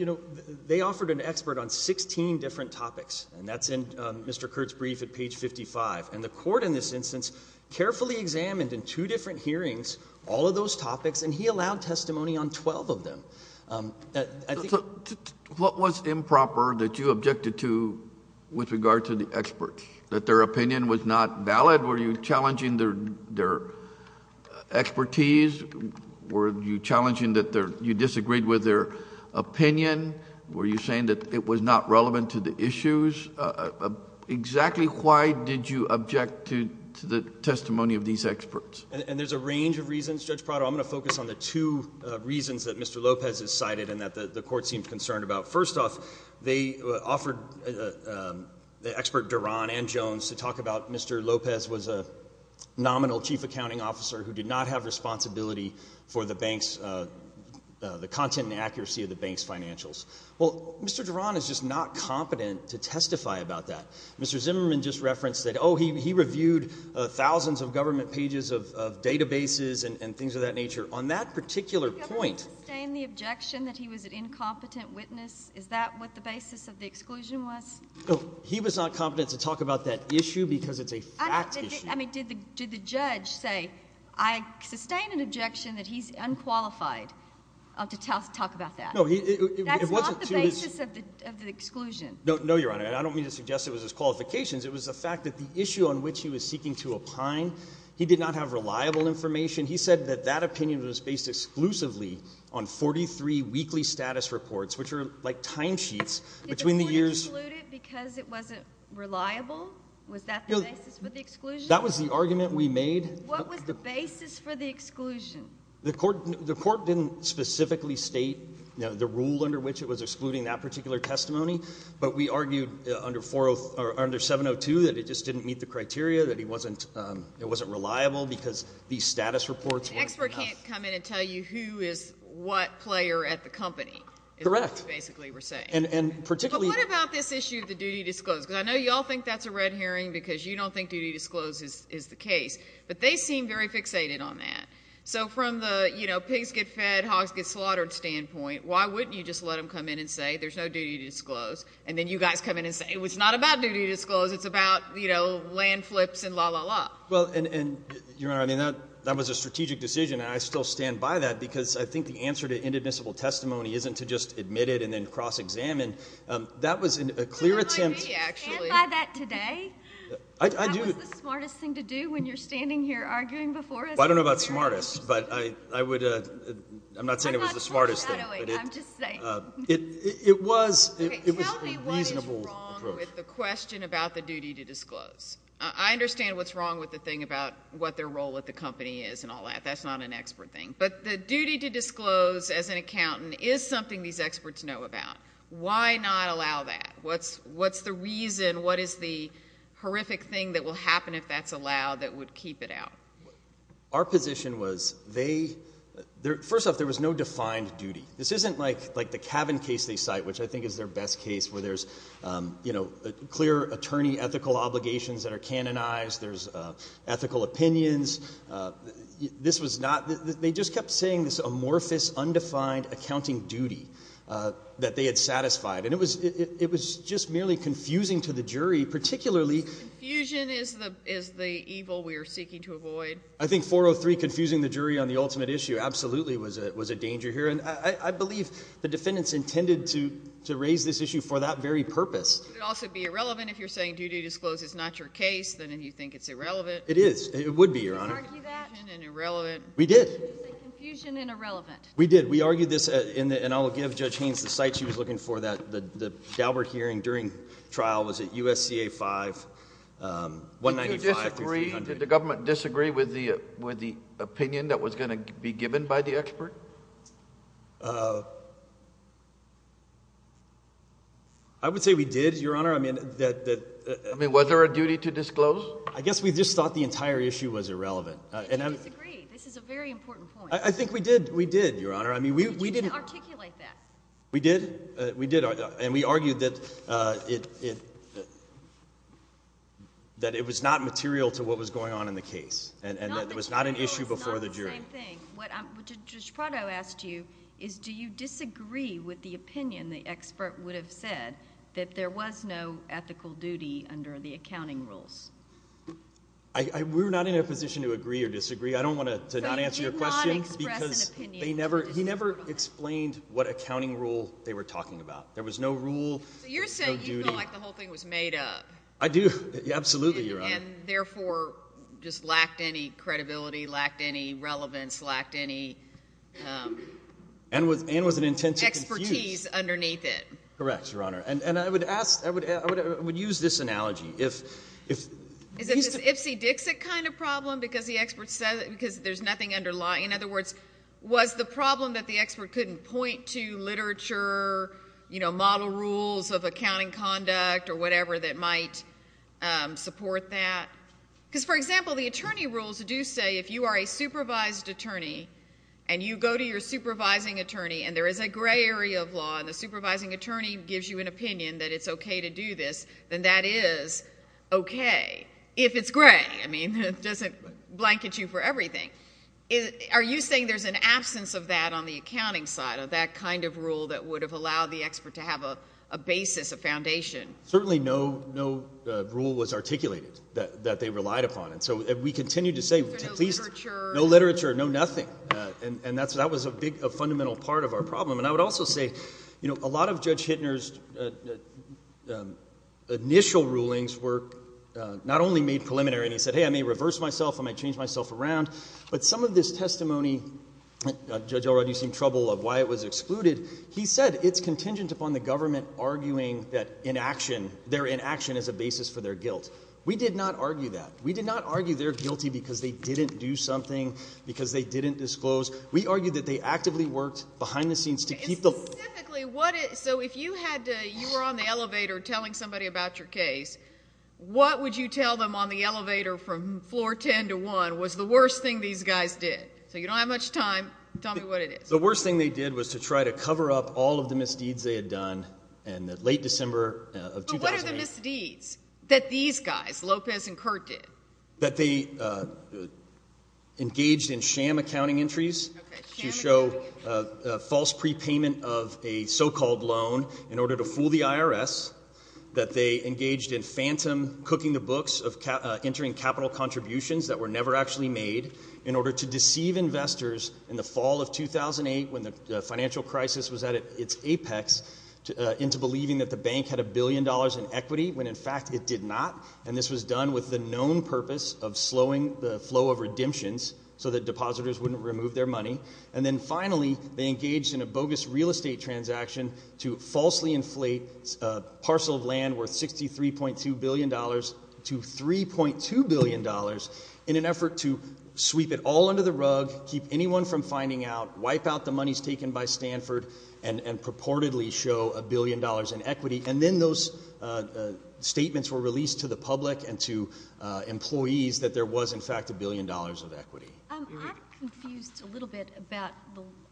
they offered an expert on 16 different topics, and that's in Mr. Kurtz's brief at page 55. And the court in this instance carefully examined in two different hearings all of those topics, and he allowed testimony on twelve of them. What was improper that you objected to with regard to the experts? That their opinion was not valid? Were you challenging their expertise? Were you challenging that you disagreed with their opinion? Were you saying that it was not relevant to the issues? Exactly why did you object to the testimony of these experts? And there's a range of reasons. Judge Prado, I'm going to focus on the two reasons that Mr. Lopez has cited and that the court seemed concerned about. First off, they offered the expert Duran and Jones to talk about Mr. Lopez was a nominal chief accounting officer who did not have responsibility for the bank's content and accuracy of the bank's financials. Well, Mr. Duran is just not competent to testify about that. Mr. Zimmerman just referenced that, oh, he reviewed thousands of government pages of databases and things of that nature. On that particular point— Did the government sustain the objection that he was an incompetent witness? Is that what the basis of the exclusion was? No, he was not competent to talk about that issue because it's a fact issue. I mean, did the judge say, I sustain an objection that he's unqualified to talk about that? That's not the basis of the exclusion. No, Your Honor, and I don't mean to suggest it was his qualifications. It was the fact that the issue on which he was seeking to opine, he did not have reliable information. He said that that opinion was based exclusively on 43 weekly status reports, which are like timesheets between the years— Did the court exclude it because it wasn't reliable? Was that the basis for the exclusion? That was the argument we made. What was the basis for the exclusion? The court didn't specifically state the rule under which it was excluding that particular testimony. But we argued under 702 that it just didn't meet the criteria, that it wasn't reliable because these status reports were not— An expert can't come in and tell you who is what player at the company is what you basically were saying. Correct. And particularly— But what about this issue of the duty disclosed? Because I know you all think that's a red herring because you don't think duty disclosed is the case. But they seem very fixated on that. So from the pigs get fed, hogs get slaughtered standpoint, why wouldn't you just let them come in and say there's no duty disclosed? And then you guys come in and say it's not about duty disclosed. It's about land flips and la, la, la. Well, and, Your Honor, that was a strategic decision, and I still stand by that because I think the answer to inadmissible testimony isn't to just admit it and then cross-examine. That was a clear attempt— Can you stand by that today? I do— That was the smartest thing to do when you're standing here arguing before us. Well, I don't know about smartest, but I would—I'm not saying it was the smartest thing. I'm just saying. It was a reasonable approach. Tell me what is wrong with the question about the duty to disclose. I understand what's wrong with the thing about what their role at the company is and all that. That's not an expert thing. But the duty to disclose as an accountant is something these experts know about. Why not allow that? What's the reason? What is the horrific thing that will happen if that's allowed that would keep it out? Our position was they—first off, there was no defined duty. This isn't like the Cavan case they cite, which I think is their best case, where there's clear attorney ethical obligations that are canonized. There's ethical opinions. This was not—they just kept saying this amorphous, undefined accounting duty that they had satisfied, and it was just merely confusing to the jury, particularly— I think 403, confusing the jury on the ultimate issue, absolutely, was a danger here. And I believe the defendants intended to raise this issue for that very purpose. It would also be irrelevant if you're saying duty to disclose is not your case, then you think it's irrelevant. It is. It would be, Your Honor. Did you argue that? Confusion and irrelevant. We did. Confusion and irrelevant. We did. We argued this, and I'll give Judge Haynes the site she was looking for. The Daubert hearing during trial was at USCA 5, 195 through 300. Did the government disagree with the opinion that was going to be given by the expert? I would say we did, Your Honor. I mean, was there a duty to disclose? I guess we just thought the entire issue was irrelevant. I disagree. This is a very important point. I think we did, Your Honor. You didn't articulate that. We did, and we argued that it was not material to what was going on in the case and that it was not an issue before the jury. It's not the same thing. What Judge Prado asked you is do you disagree with the opinion the expert would have said that there was no ethical duty under the accounting rules? We're not in a position to agree or disagree. I don't want to not answer your question because he never explained what accounting rule they were talking about. There was no rule, no duty. So you're saying you feel like the whole thing was made up? I do, absolutely, Your Honor. And therefore just lacked any credibility, lacked any relevance, lacked any expertise underneath it? And I would use this analogy. Is it this Ipsy-Dixit kind of problem because there's nothing underlying? In other words, was the problem that the expert couldn't point to literature, model rules of accounting conduct or whatever that might support that? Because, for example, the attorney rules do say if you are a supervised attorney and you go to your supervising attorney and there is a gray area of law and the supervising attorney gives you an opinion that it's okay to do this, then that is okay if it's gray. I mean it doesn't blanket you for everything. Are you saying there's an absence of that on the accounting side of that kind of rule that would have allowed the expert to have a basis, a foundation? Certainly no rule was articulated that they relied upon. And so we continue to say, no literature, no nothing. And that was a big fundamental part of our problem. And I would also say a lot of Judge Hittner's initial rulings were not only made preliminary and he said, hey, I may reverse myself. I might change myself around. But some of this testimony, Judge Elrod, you seem troubled of why it was excluded. He said it's contingent upon the government arguing that inaction, their inaction is a basis for their guilt. We did not argue that. We did not argue they're guilty because they didn't do something, because they didn't disclose. We argued that they actively worked behind the scenes to keep the law. Specifically, so if you were on the elevator telling somebody about your case, what would you tell them on the elevator from floor 10 to 1 was the worst thing these guys did? So you don't have much time. Tell me what it is. The worst thing they did was to try to cover up all of the misdeeds they had done in the late December of 2008. But what are the misdeeds that these guys, Lopez and Kurt, did? That they engaged in sham accounting entries to show false prepayment of a so-called loan in order to fool the IRS. That they engaged in phantom cooking the books of entering capital contributions that were never actually made in order to deceive investors in the fall of 2008 when the financial crisis was at its apex into believing that the bank had a billion dollars in equity when, in fact, it did not. And this was done with the known purpose of slowing the flow of redemptions so that depositors wouldn't remove their money. And then, finally, they engaged in a bogus real estate transaction to falsely inflate a parcel of land worth $63.2 billion to $3.2 billion in an effort to sweep it all under the rug, keep anyone from finding out, wipe out the monies taken by Stanford, and purportedly show a billion dollars in equity. And then those statements were released to the public and to employees that there was, in fact, a billion dollars of equity. I'm confused a little bit about,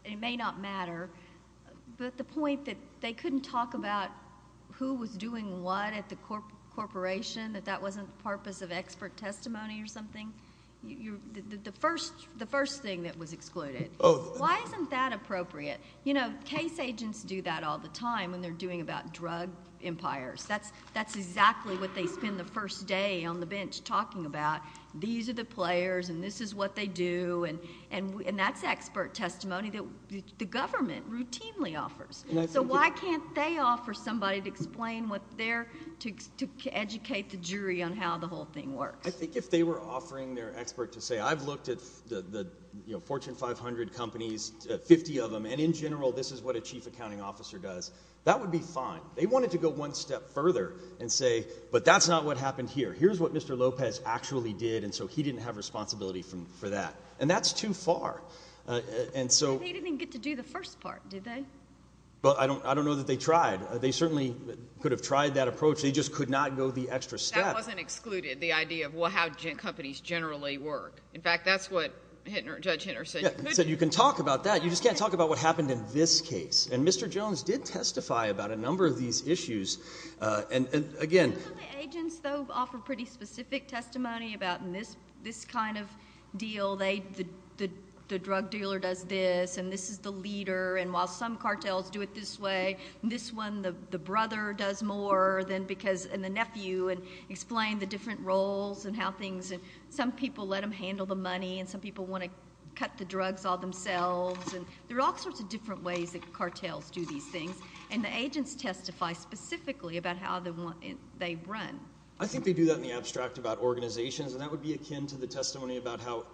it may not matter, but the point that they couldn't talk about who was doing what at the corporation, that that wasn't the purpose of expert testimony or something, the first thing that was excluded. Why isn't that appropriate? You know, case agents do that all the time when they're doing about drug empires. That's exactly what they spend the first day on the bench talking about. These are the players, and this is what they do, and that's expert testimony that the government routinely offers. So why can't they offer somebody to explain what they're—to educate the jury on how the whole thing works? I think if they were offering their expert to say, I've looked at the Fortune 500 companies, 50 of them, and in general this is what a chief accounting officer does, that would be fine. They wanted to go one step further and say, but that's not what happened here. Here's what Mr. Lopez actually did, and so he didn't have responsibility for that. And that's too far. But they didn't get to do the first part, did they? I don't know that they tried. They certainly could have tried that approach. They just could not go the extra step. That wasn't excluded, the idea of how companies generally work. In fact, that's what Judge Hittner said. He said you can talk about that. You just can't talk about what happened in this case. And Mr. Jones did testify about a number of these issues, and again— You know the agents, though, offer pretty specific testimony about this kind of deal. The drug dealer does this, and this is the leader, and while some cartels do it this way, and this one, the brother does more, and the nephew, and explain the different roles and how some people let them handle the money and some people want to cut the drugs all themselves. There are all sorts of different ways that cartels do these things, and the agents testify specifically about how they run. I think they do that in the abstract about organizations, and that would be akin to the testimony about how,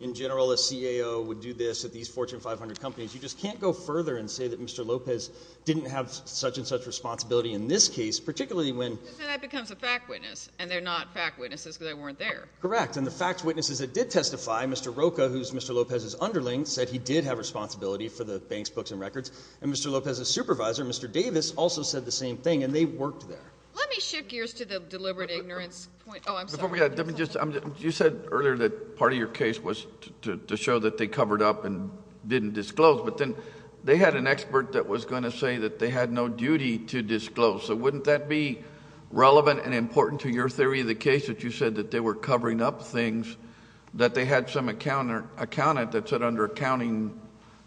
in general, a CAO would do this at these Fortune 500 companies. You just can't go further and say that Mr. Lopez didn't have such and such responsibility in this case, particularly when— That becomes a fact witness, and they're not fact witnesses because they weren't there. Correct. And the fact witnesses that did testify, Mr. Rocha, who's Mr. Lopez's underling, said he did have responsibility for the bank's books and records, and Mr. Lopez's supervisor, Mr. Davis, also said the same thing, and they worked there. Let me shift gears to the deliberate ignorance point. Oh, I'm sorry. You said earlier that part of your case was to show that they covered up and didn't disclose, but then they had an expert that was going to say that they had no duty to disclose, so wouldn't that be relevant and important to your theory of the case that you said that they were covering up things that they had some accountant that said under accounting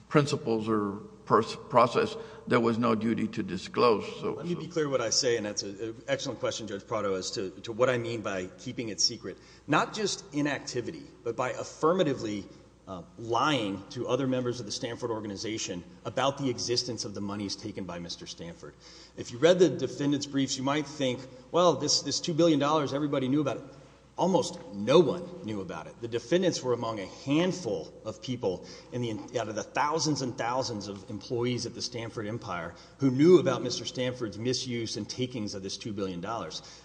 principles or process there was no duty to disclose? Let me be clear what I say, and that's an excellent question, Judge Prado, as to what I mean by keeping it secret. Not just inactivity, but by affirmatively lying to other members of the Stanford organization about the existence of the monies taken by Mr. Stanford. If you read the defendants' briefs, you might think, well, this $2 billion, everybody knew about it. Almost no one knew about it. The defendants were among a handful of people out of the thousands and thousands of employees at the Stanford empire who knew about Mr. Stanford's misuse and takings of this $2 billion.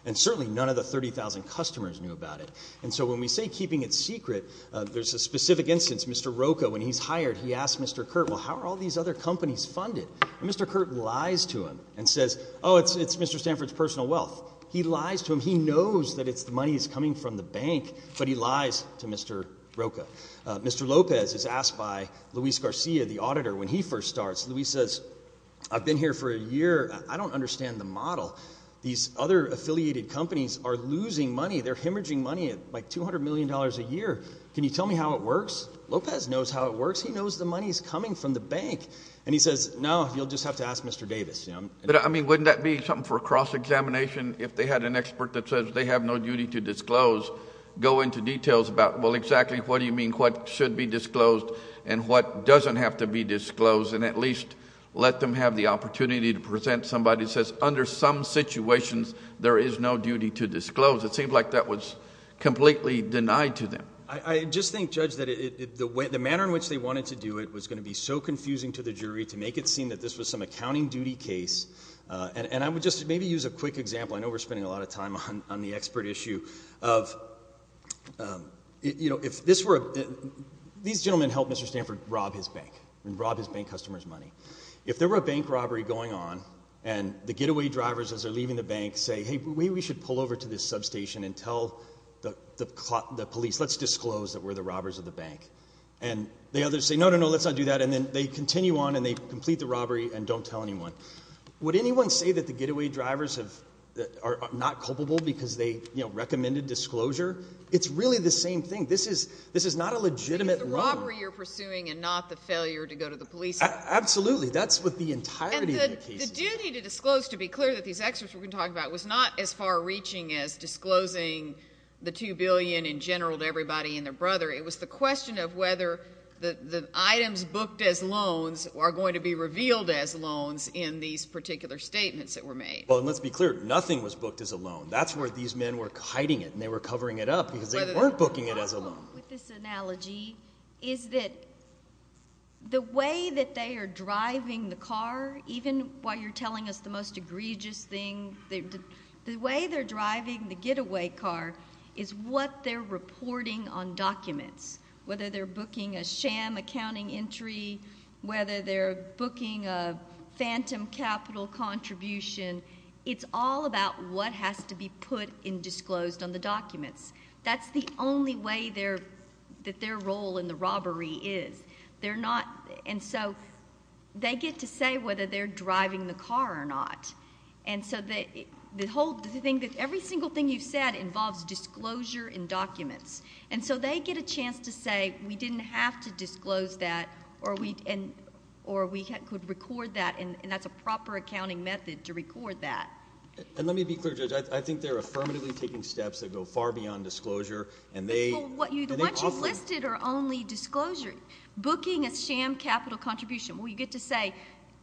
And certainly none of the 30,000 customers knew about it. And so when we say keeping it secret, there's a specific instance. Mr. Rocha, when he's hired, he asks Mr. Curt, well, how are all these other companies funded? And Mr. Curt lies to him and says, oh, it's Mr. Stanford's personal wealth. He lies to him. He knows that the money is coming from the bank, but he lies to Mr. Rocha. Mr. Lopez is asked by Luis Garcia, the auditor, when he first starts, Luis says, I've been here for a year. I don't understand the model. These other affiliated companies are losing money. They're hemorrhaging money at like $200 million a year. Can you tell me how it works? Lopez knows how it works. He knows the money is coming from the bank. And he says, no, you'll just have to ask Mr. Davis. But, I mean, wouldn't that be something for a cross-examination if they had an expert that says they have no duty to disclose, go into details about, well, exactly what do you mean what should be disclosed and what doesn't have to be disclosed and at least let them have the opportunity to present somebody that says under some situations there is no duty to disclose. It seems like that was completely denied to them. I just think, Judge, that the manner in which they wanted to do it was going to be so confusing to the jury to make it seem that this was some accounting duty case. And I would just maybe use a quick example. I know we're spending a lot of time on the expert issue of, you know, if this were a – these gentlemen helped Mr. Stanford rob his bank and rob his bank customers' money. If there were a bank robbery going on and the getaway drivers, as they're leaving the bank, say, hey, maybe we should pull over to this substation and tell the police, let's disclose that we're the robbers of the bank. And the others say, no, no, no, let's not do that. And then they continue on and they complete the robbery and don't tell anyone. Would anyone say that the getaway drivers are not culpable because they, you know, recommended disclosure? It's really the same thing. This is not a legitimate robbery. It's the robbery you're pursuing and not the failure to go to the police. Absolutely. That's what the entirety of the case is. And the duty to disclose, to be clear, that these experts were going to talk about, was not as far-reaching as disclosing the $2 billion in general to everybody and their brother. It was the question of whether the items booked as loans are going to be revealed as loans in these particular statements that were made. Well, and let's be clear. Nothing was booked as a loan. That's where these men were hiding it and they were covering it up because they weren't booking it as a loan. The problem with this analogy is that the way that they are driving the car, even while you're telling us the most egregious thing, the way they're driving the getaway car is what they're reporting on documents, whether they're booking a sham accounting entry, whether they're booking a phantom capital contribution. It's all about what has to be put and disclosed on the documents. That's the only way that their role in the robbery is. And so they get to say whether they're driving the car or not. And so every single thing you've said involves disclosure in documents. And so they get a chance to say we didn't have to disclose that or we could record that, and that's a proper accounting method to record that. And let me be clear, Judge. I think they're affirmatively taking steps that go far beyond disclosure. What you've listed are only disclosure. Booking a sham capital contribution, well, you get to say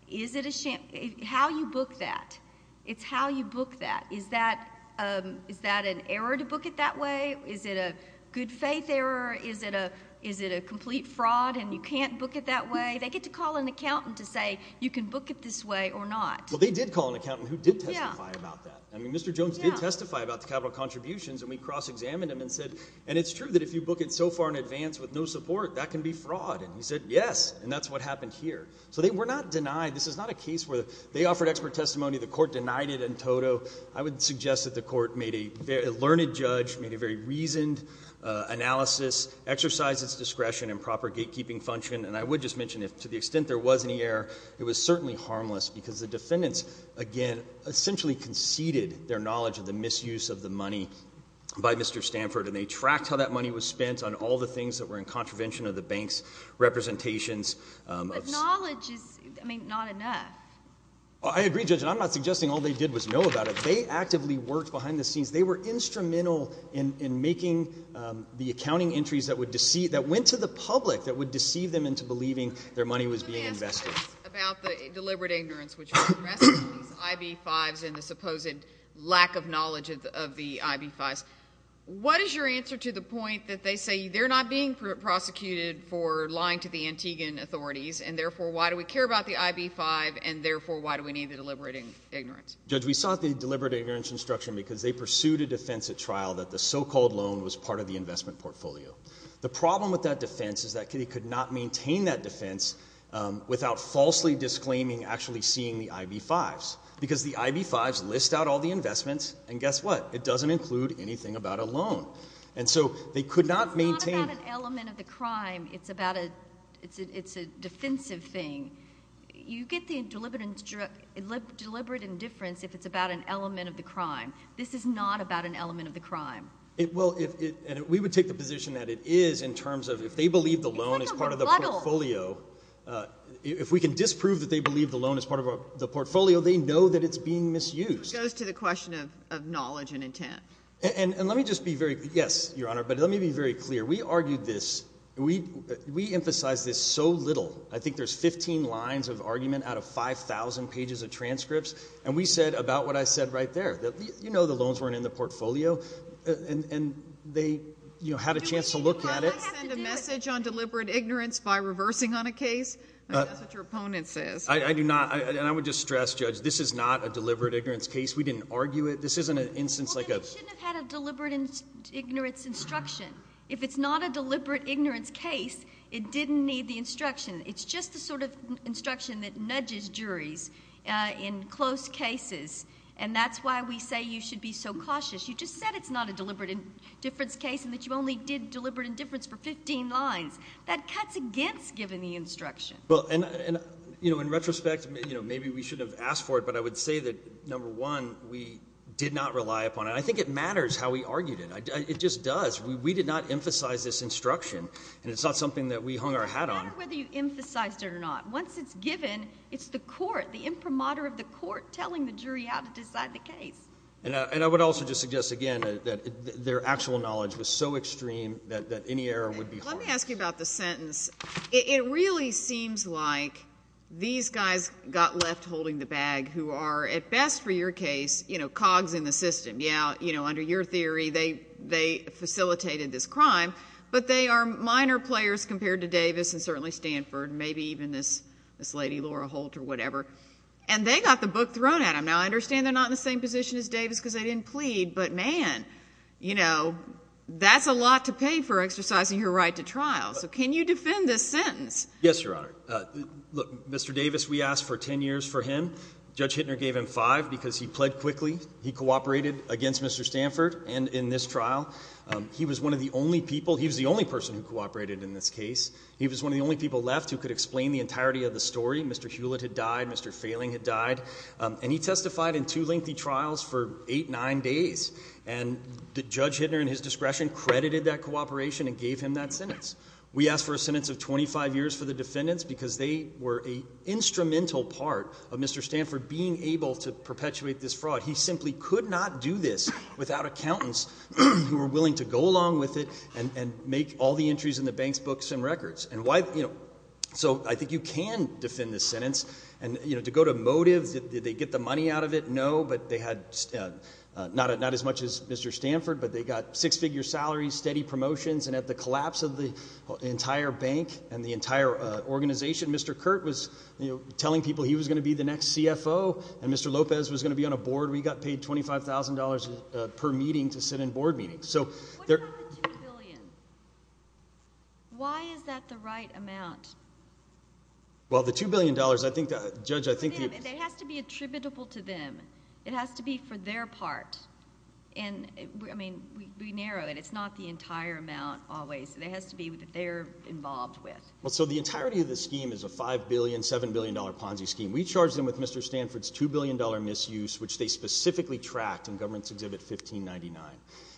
is it a sham? How you book that, it's how you book that. Is that an error to book it that way? Is it a good faith error? Is it a complete fraud and you can't book it that way? They get to call an accountant to say you can book it this way or not. Well, they did call an accountant who did testify about that. I mean, Mr. Jones did testify about the capital contributions, and we cross-examined him and said, and it's true that if you book it so far in advance with no support, that can be fraud. And he said, yes, and that's what happened here. So they were not denied. This is not a case where they offered expert testimony, the court denied it in toto. I would suggest that the court made a learned judge, made a very reasoned analysis, exercised its discretion and proper gatekeeping function, and I would just mention to the extent there was any error, it was certainly harmless because the defendants, again, essentially conceded their knowledge of the misuse of the money by Mr. Stanford, and they tracked how that money was spent on all the things that were in contravention of the bank's representations. But knowledge is not enough. I agree, Judge, and I'm not suggesting all they did was know about it. They actively worked behind the scenes. They were instrumental in making the accounting entries that went to the public that would deceive them into believing their money was being invested. About the deliberate ignorance, which addresses these IB-5s and the supposed lack of knowledge of the IB-5s, what is your answer to the point that they say they're not being prosecuted for lying to the Antiguan authorities and therefore why do we care about the IB-5 and therefore why do we need the deliberate ignorance? Judge, we sought the deliberate ignorance instruction because they pursued a defense at trial that the so-called loan was part of the investment portfolio. The problem with that defense is that they could not maintain that defense without falsely disclaiming actually seeing the IB-5s because the IB-5s list out all the investments, and guess what? It doesn't include anything about a loan, and so they could not maintain it. It's not about an element of the crime. It's a defensive thing. You get the deliberate indifference if it's about an element of the crime. This is not about an element of the crime. Well, and we would take the position that it is in terms of if they believe the loan is part of the portfolio, if we can disprove that they believe the loan is part of the portfolio, they know that it's being misused. It goes to the question of knowledge and intent. And let me just be very clear. Yes, Your Honor, but let me be very clear. We argued this. We emphasized this so little. I think there's 15 lines of argument out of 5,000 pages of transcripts, and we said about what I said right there, you know the loans weren't in the portfolio, and they had a chance to look at it. Do we need to send a message on deliberate ignorance by reversing on a case? That's what your opponent says. I do not, and I would just stress, Judge, this is not a deliberate ignorance case. We didn't argue it. This isn't an instance like a – Well, then it shouldn't have had a deliberate ignorance instruction. If it's not a deliberate ignorance case, it didn't need the instruction. It's just the sort of instruction that nudges juries in close cases, and that's why we say you should be so cautious. You just said it's not a deliberate indifference case and that you only did deliberate indifference for 15 lines. That cuts against giving the instruction. Well, and, you know, in retrospect, maybe we shouldn't have asked for it, but I would say that, number one, we did not rely upon it. I think it matters how we argued it. It just does. We did not emphasize this instruction, and it's not something that we hung our hat on. It doesn't matter whether you emphasized it or not. Once it's given, it's the court, the imprimatur of the court, telling the jury how to decide the case. And I would also just suggest, again, that their actual knowledge was so extreme that any error would be harsh. Let me ask you about the sentence. It really seems like these guys got left holding the bag, who are, at best for your case, cogs in the system. Yeah, under your theory, they facilitated this crime, but they are minor players compared to Davis and certainly Stanford, maybe even this lady, Laura Holt, or whatever. And they got the book thrown at them. Now, I understand they're not in the same position as Davis because they didn't plead, but, man, you know, that's a lot to pay for exercising your right to trial. So can you defend this sentence? Yes, Your Honor. Look, Mr. Davis, we asked for 10 years for him. Judge Hittner gave him five because he pled quickly. He cooperated against Mr. Stanford and in this trial. He was one of the only people. He was the only person who cooperated in this case. He was one of the only people left who could explain the entirety of the story. Mr. Hewlett had died. Mr. Failing had died. And he testified in two lengthy trials for eight, nine days. And Judge Hittner, in his discretion, credited that cooperation and gave him that sentence. We asked for a sentence of 25 years for the defendants because they were an instrumental part of Mr. Stanford being able to perpetuate this fraud. He simply could not do this without accountants who were willing to go along with it and make all the entries in the bank's books and records. And, you know, so I think you can defend this sentence. And, you know, to go to motives, did they get the money out of it? No, but they had not as much as Mr. Stanford, but they got six-figure salaries, steady promotions, and at the collapse of the entire bank and the entire organization, Mr. Kurt was telling people he was going to be the next CFO and Mr. Lopez was going to be on a board. We got paid $25,000 per meeting to sit in board meetings. What about the $2 billion? Why is that the right amount? Well, the $2 billion, I think, Judge, I think you're It has to be attributable to them. It has to be for their part. And, I mean, we narrow it. It's not the entire amount always. It has to be what they're involved with. Well, so the entirety of the scheme is a $5 billion, $7 billion Ponzi scheme. We charged them with Mr. Stanford's $2 billion misuse, which they specifically tracked in Governance Exhibit 1599.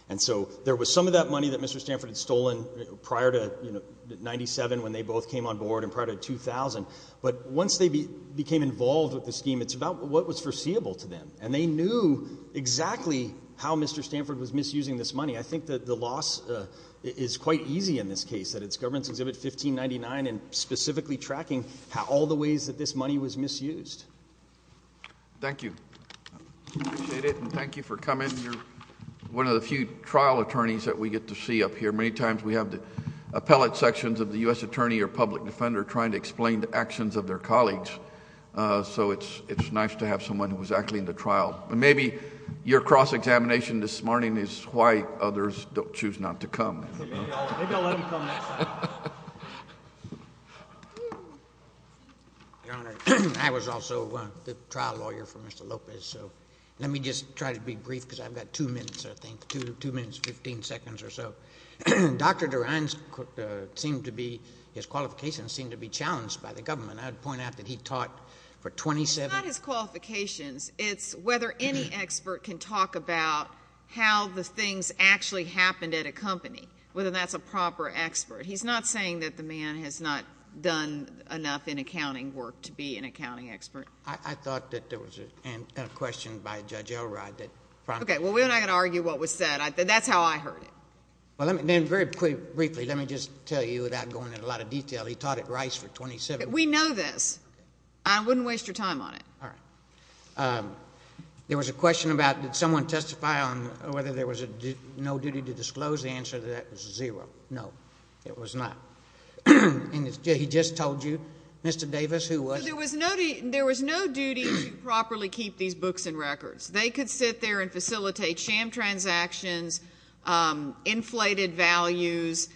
And so there was some of that money that Mr. Stanford had stolen prior to, you know, in 1997 when they both came on board and prior to 2000. But once they became involved with the scheme, it's about what was foreseeable to them. And they knew exactly how Mr. Stanford was misusing this money. I think that the loss is quite easy in this case, that it's Governance Exhibit 1599 and specifically tracking all the ways that this money was misused. Thank you. I appreciate it, and thank you for coming. You're one of the few trial attorneys that we get to see up here. Many times we have the appellate sections of the U.S. attorney or public defender trying to explain the actions of their colleagues. So it's nice to have someone who was actually in the trial. And maybe your cross-examination this morning is why others don't choose not to come. Maybe I'll let him come next time. Your Honor, I was also the trial lawyer for Mr. Lopez. So let me just try to be brief because I've got two minutes, I think, two minutes, 15 seconds or so. Dr. DeRionne's seemed to be, his qualifications seemed to be challenged by the government. I would point out that he taught for 27 years. It's not his qualifications. It's whether any expert can talk about how the things actually happened at a company, whether that's a proper expert. He's not saying that the man has not done enough in accounting work to be an accounting expert. I thought that there was a question by Judge Elrod that prompted that. Okay. Well, we're not going to argue what was said. That's how I heard it. Well, then very briefly, let me just tell you, without going into a lot of detail, he taught at Rice for 27 years. We know this. Okay. I wouldn't waste your time on it. All right. There was a question about did someone testify on whether there was no duty to disclose. The answer to that was zero. No, there was not. And he just told you. Mr. Davis, who was? There was no duty to properly keep these books and records. They could sit there and facilitate sham transactions, inflated values,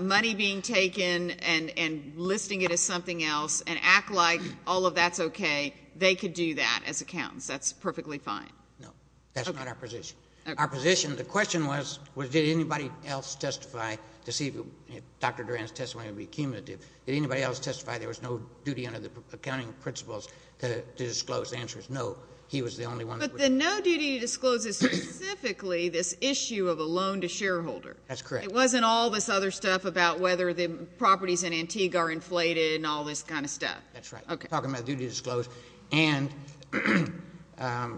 money being taken and listing it as something else and act like all of that's okay. They could do that as accountants. That's perfectly fine. No, that's not our position. Our position, the question was did anybody else testify to see if Dr. Durand's testimony would be cumulative? Did anybody else testify there was no duty under the accounting principles to disclose? The answer is no. He was the only one. But the no duty to disclose is specifically this issue of a loan to shareholder. That's correct. It wasn't all this other stuff about whether the properties in Antigua are inflated and all this kind of stuff. That's right. We're talking about duty to disclose. And I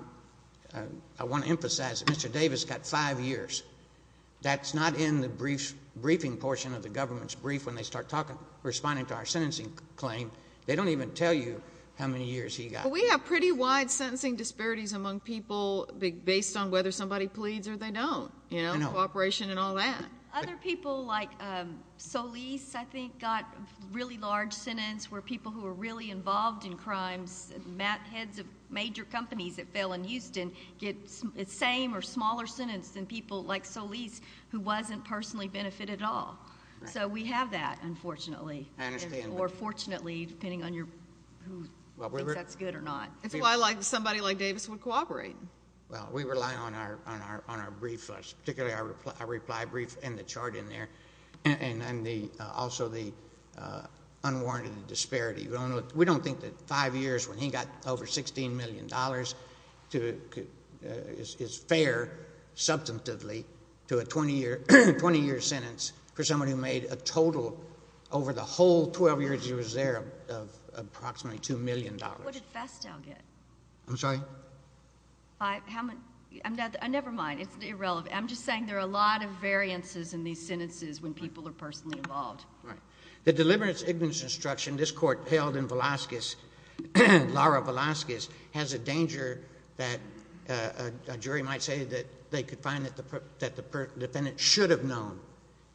want to emphasize that Mr. Davis got five years. That's not in the briefing portion of the government's brief when they start responding to our sentencing claim. They don't even tell you how many years he got. We have pretty wide sentencing disparities among people based on whether somebody pleads or they don't, you know, cooperation and all that. Other people like Solis, I think, got a really large sentence where people who were really involved in crimes, heads of major companies that fell in Houston, get the same or smaller sentence than people like Solis who wasn't personally benefited at all. So we have that, unfortunately. I understand. Or fortunately, depending on who thinks that's good or not. That's why somebody like Davis would cooperate. Well, we rely on our brief, particularly our reply brief and the chart in there, and also the unwarranted disparity. We don't think that five years when he got over $16 million is fair substantively to a 20-year sentence for somebody who made a total over the whole 12 years he was there of approximately $2 million. What did Festow get? I'm sorry? How many? Never mind. It's irrelevant. I'm just saying there are a lot of variances in these sentences when people are personally involved. Right. The deliverance ignorance instruction this court held in Velazquez, Lara Velazquez, has a danger that a jury might say that they could find that the defendant should have known.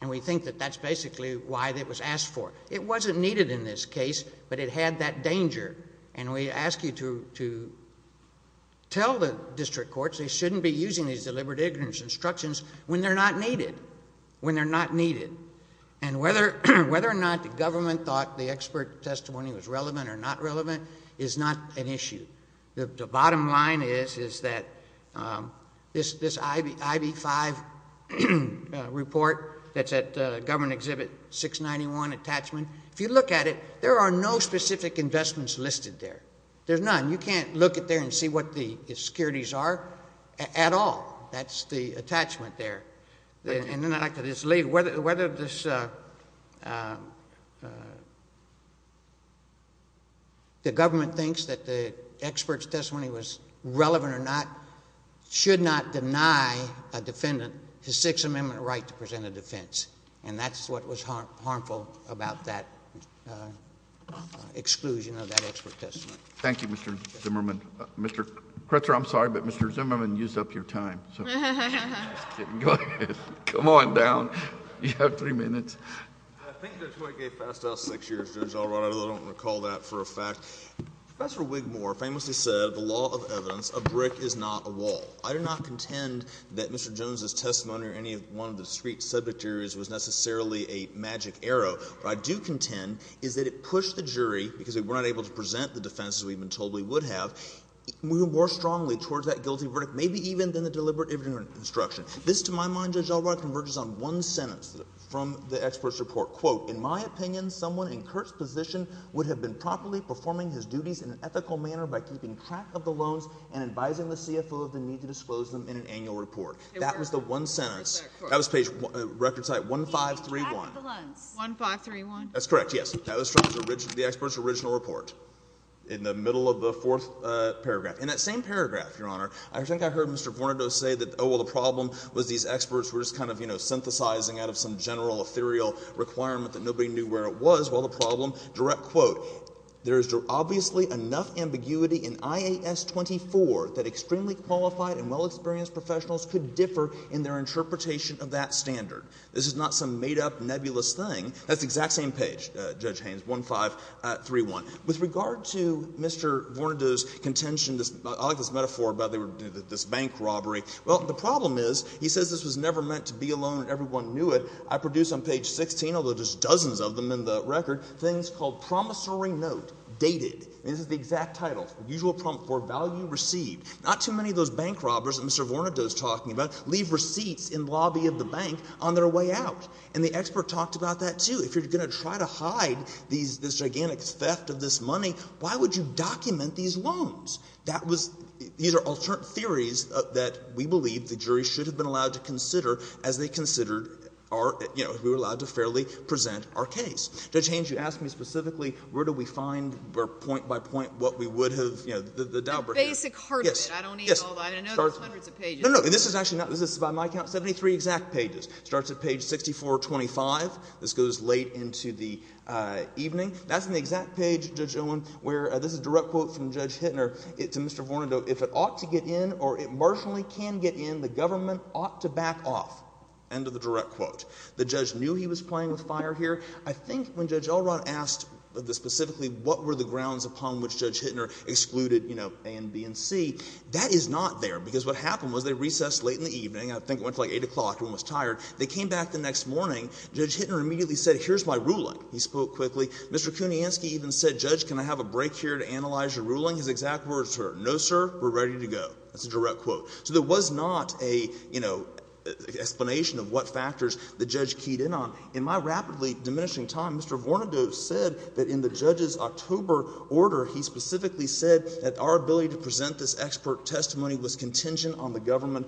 And we think that that's basically why it was asked for. It wasn't needed in this case, but it had that danger. And we ask you to tell the district courts they shouldn't be using these deliverance ignorance instructions when they're not needed, when they're not needed. And whether or not the government thought the expert testimony was relevant or not relevant is not an issue. The bottom line is that this IV-5 report that's at government exhibit 691 attachment, if you look at it, there are no specific investments listed there. There's none. You can't look at there and see what the securities are at all. That's the attachment there. And then I'd like to just leave. Whether the government thinks that the expert's testimony was relevant or not should not deny a defendant his Sixth Amendment right to present a defense. And that's what was harmful about that exclusion of that expert testimony. Thank you, Mr. Zimmerman. Mr. Kretzer, I'm sorry, but Mr. Zimmerman used up your time. I'm just kidding. Go ahead. Come on down. You have three minutes. Thank you, Judge White. I gave fast out six years, Judge Alright. I don't recall that for a fact. Professor Wigmore famously said, the law of evidence, a brick is not a wall. I do not contend that Mr. Jones' testimony or any one of the district's subject areas was necessarily a magic arrow. What I do contend is that it pushed the jury, because we were not able to present the defense as we've been told we would have, more strongly towards that guilty verdict, maybe even than the deliberate evidence construction. This, to my mind, Judge Albright, converges on one sentence from the expert's report. Quote, in my opinion, someone in Kurt's position would have been properly performing his duties in an ethical manner by keeping track of the loans and advising the CFO of the need to disclose them in an annual report. That was the one sentence. That was page record site 1531. Keeping track of the loans. 1531? That's correct, yes. That was from the expert's original report, in the middle of the fourth paragraph. In that same paragraph, Your Honor, I think I heard Mr. Vornado say that, oh, well, the problem was these experts were just kind of, you know, synthesizing out of some general ethereal requirement that nobody knew where it was. Well, the problem, direct quote, there is obviously enough ambiguity in IAS 24 that extremely qualified and well-experienced professionals could differ in their interpretation of that standard. This is not some made-up, nebulous thing. That's the exact same page, Judge Haynes, 1531. With regard to Mr. Vornado's contention, I like this metaphor about this bank robbery. Well, the problem is he says this was never meant to be a loan and everyone knew it. I produce on page 16, although there's dozens of them in the record, things called promissory note dated. This is the exact title. Usual prompt for value received. Not too many of those bank robbers that Mr. Vornado is talking about leave receipts in lobby of the bank on their way out. And the expert talked about that, too. If you're going to try to hide this gigantic theft of this money, why would you document these loans? That was — these are alternate theories that we believe the jury should have been allowed to consider as they considered our — you know, if we were allowed to fairly present our case. Judge Haynes, you asked me specifically where do we find, point by point, what we would have — you know, the Daubert — The basic heart of it. Yes. I don't need all that. I know there's hundreds of pages. No, no. I mean, this is actually not — this is, by my count, 73 exact pages. It starts at page 6425. This goes late into the evening. That's in the exact page, Judge Owen, where — this is a direct quote from Judge Hittner to Mr. Vornado. If it ought to get in or it marginally can get in, the government ought to back off. End of the direct quote. The judge knew he was playing with fire here. I think when Judge Elrod asked specifically what were the grounds upon which Judge Hittner excluded, you know, A and B and C, that is not there because what happened was they recessed late in the evening. I think it went to like 8 o'clock. Everyone was tired. They came back the next morning. Judge Hittner immediately said, here's my ruling. He spoke quickly. Mr. Kuniansky even said, Judge, can I have a break here to analyze your ruling? His exact words were, no, sir, we're ready to go. That's a direct quote. So there was not a, you know, explanation of what factors the judge keyed in on. In my rapidly diminishing time, Mr. Vornado said that in the judge's October order, he specifically said that our ability to present this expert testimony was contingent on the government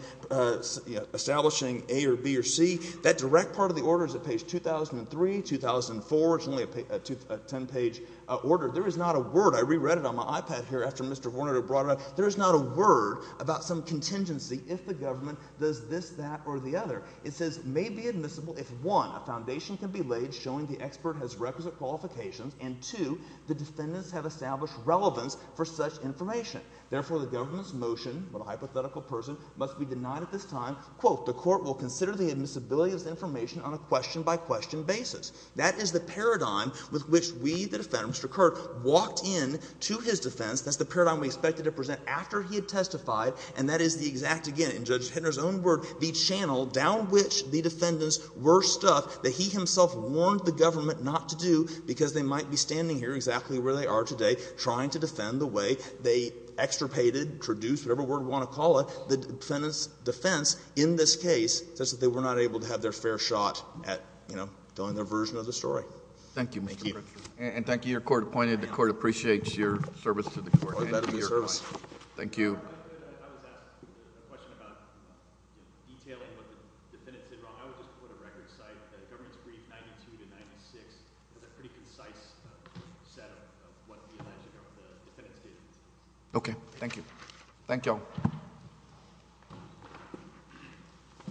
establishing A or B or C. That direct part of the order is at page 2003, 2004. It's only a 10-page order. There is not a word. I reread it on my iPad here after Mr. Vornado brought it up. There is not a word about some contingency if the government does this, that, or the other. It says, may be admissible if, one, a foundation can be laid showing the expert has requisite qualifications, and, two, the defendants have established relevance for such information. Therefore, the government's motion, what a hypothetical person, must be denied at this time, quote, the court will consider the admissibility of this information on a question-by-question basis. That is the paradigm with which we, the defendants, Mr. Kirk, walked into his defense. That's the paradigm we expected to present after he had testified, and that is the exact, again, in Judge Hittner's own word, the channel down which the defendants were stuffed that he himself warned the government not to do because they might be standing here exactly where they are today trying to defend the way they extirpated, traduced, whatever word you want to call it, the defendant's defense in this case, such that they were not able to have their fair shot at, you know, telling their version of the story. Thank you, Mr. Kirk. And thank you. You're court-appointed. The court appreciates your service to the court. Thank you. Okay. Thank you. Thank you all.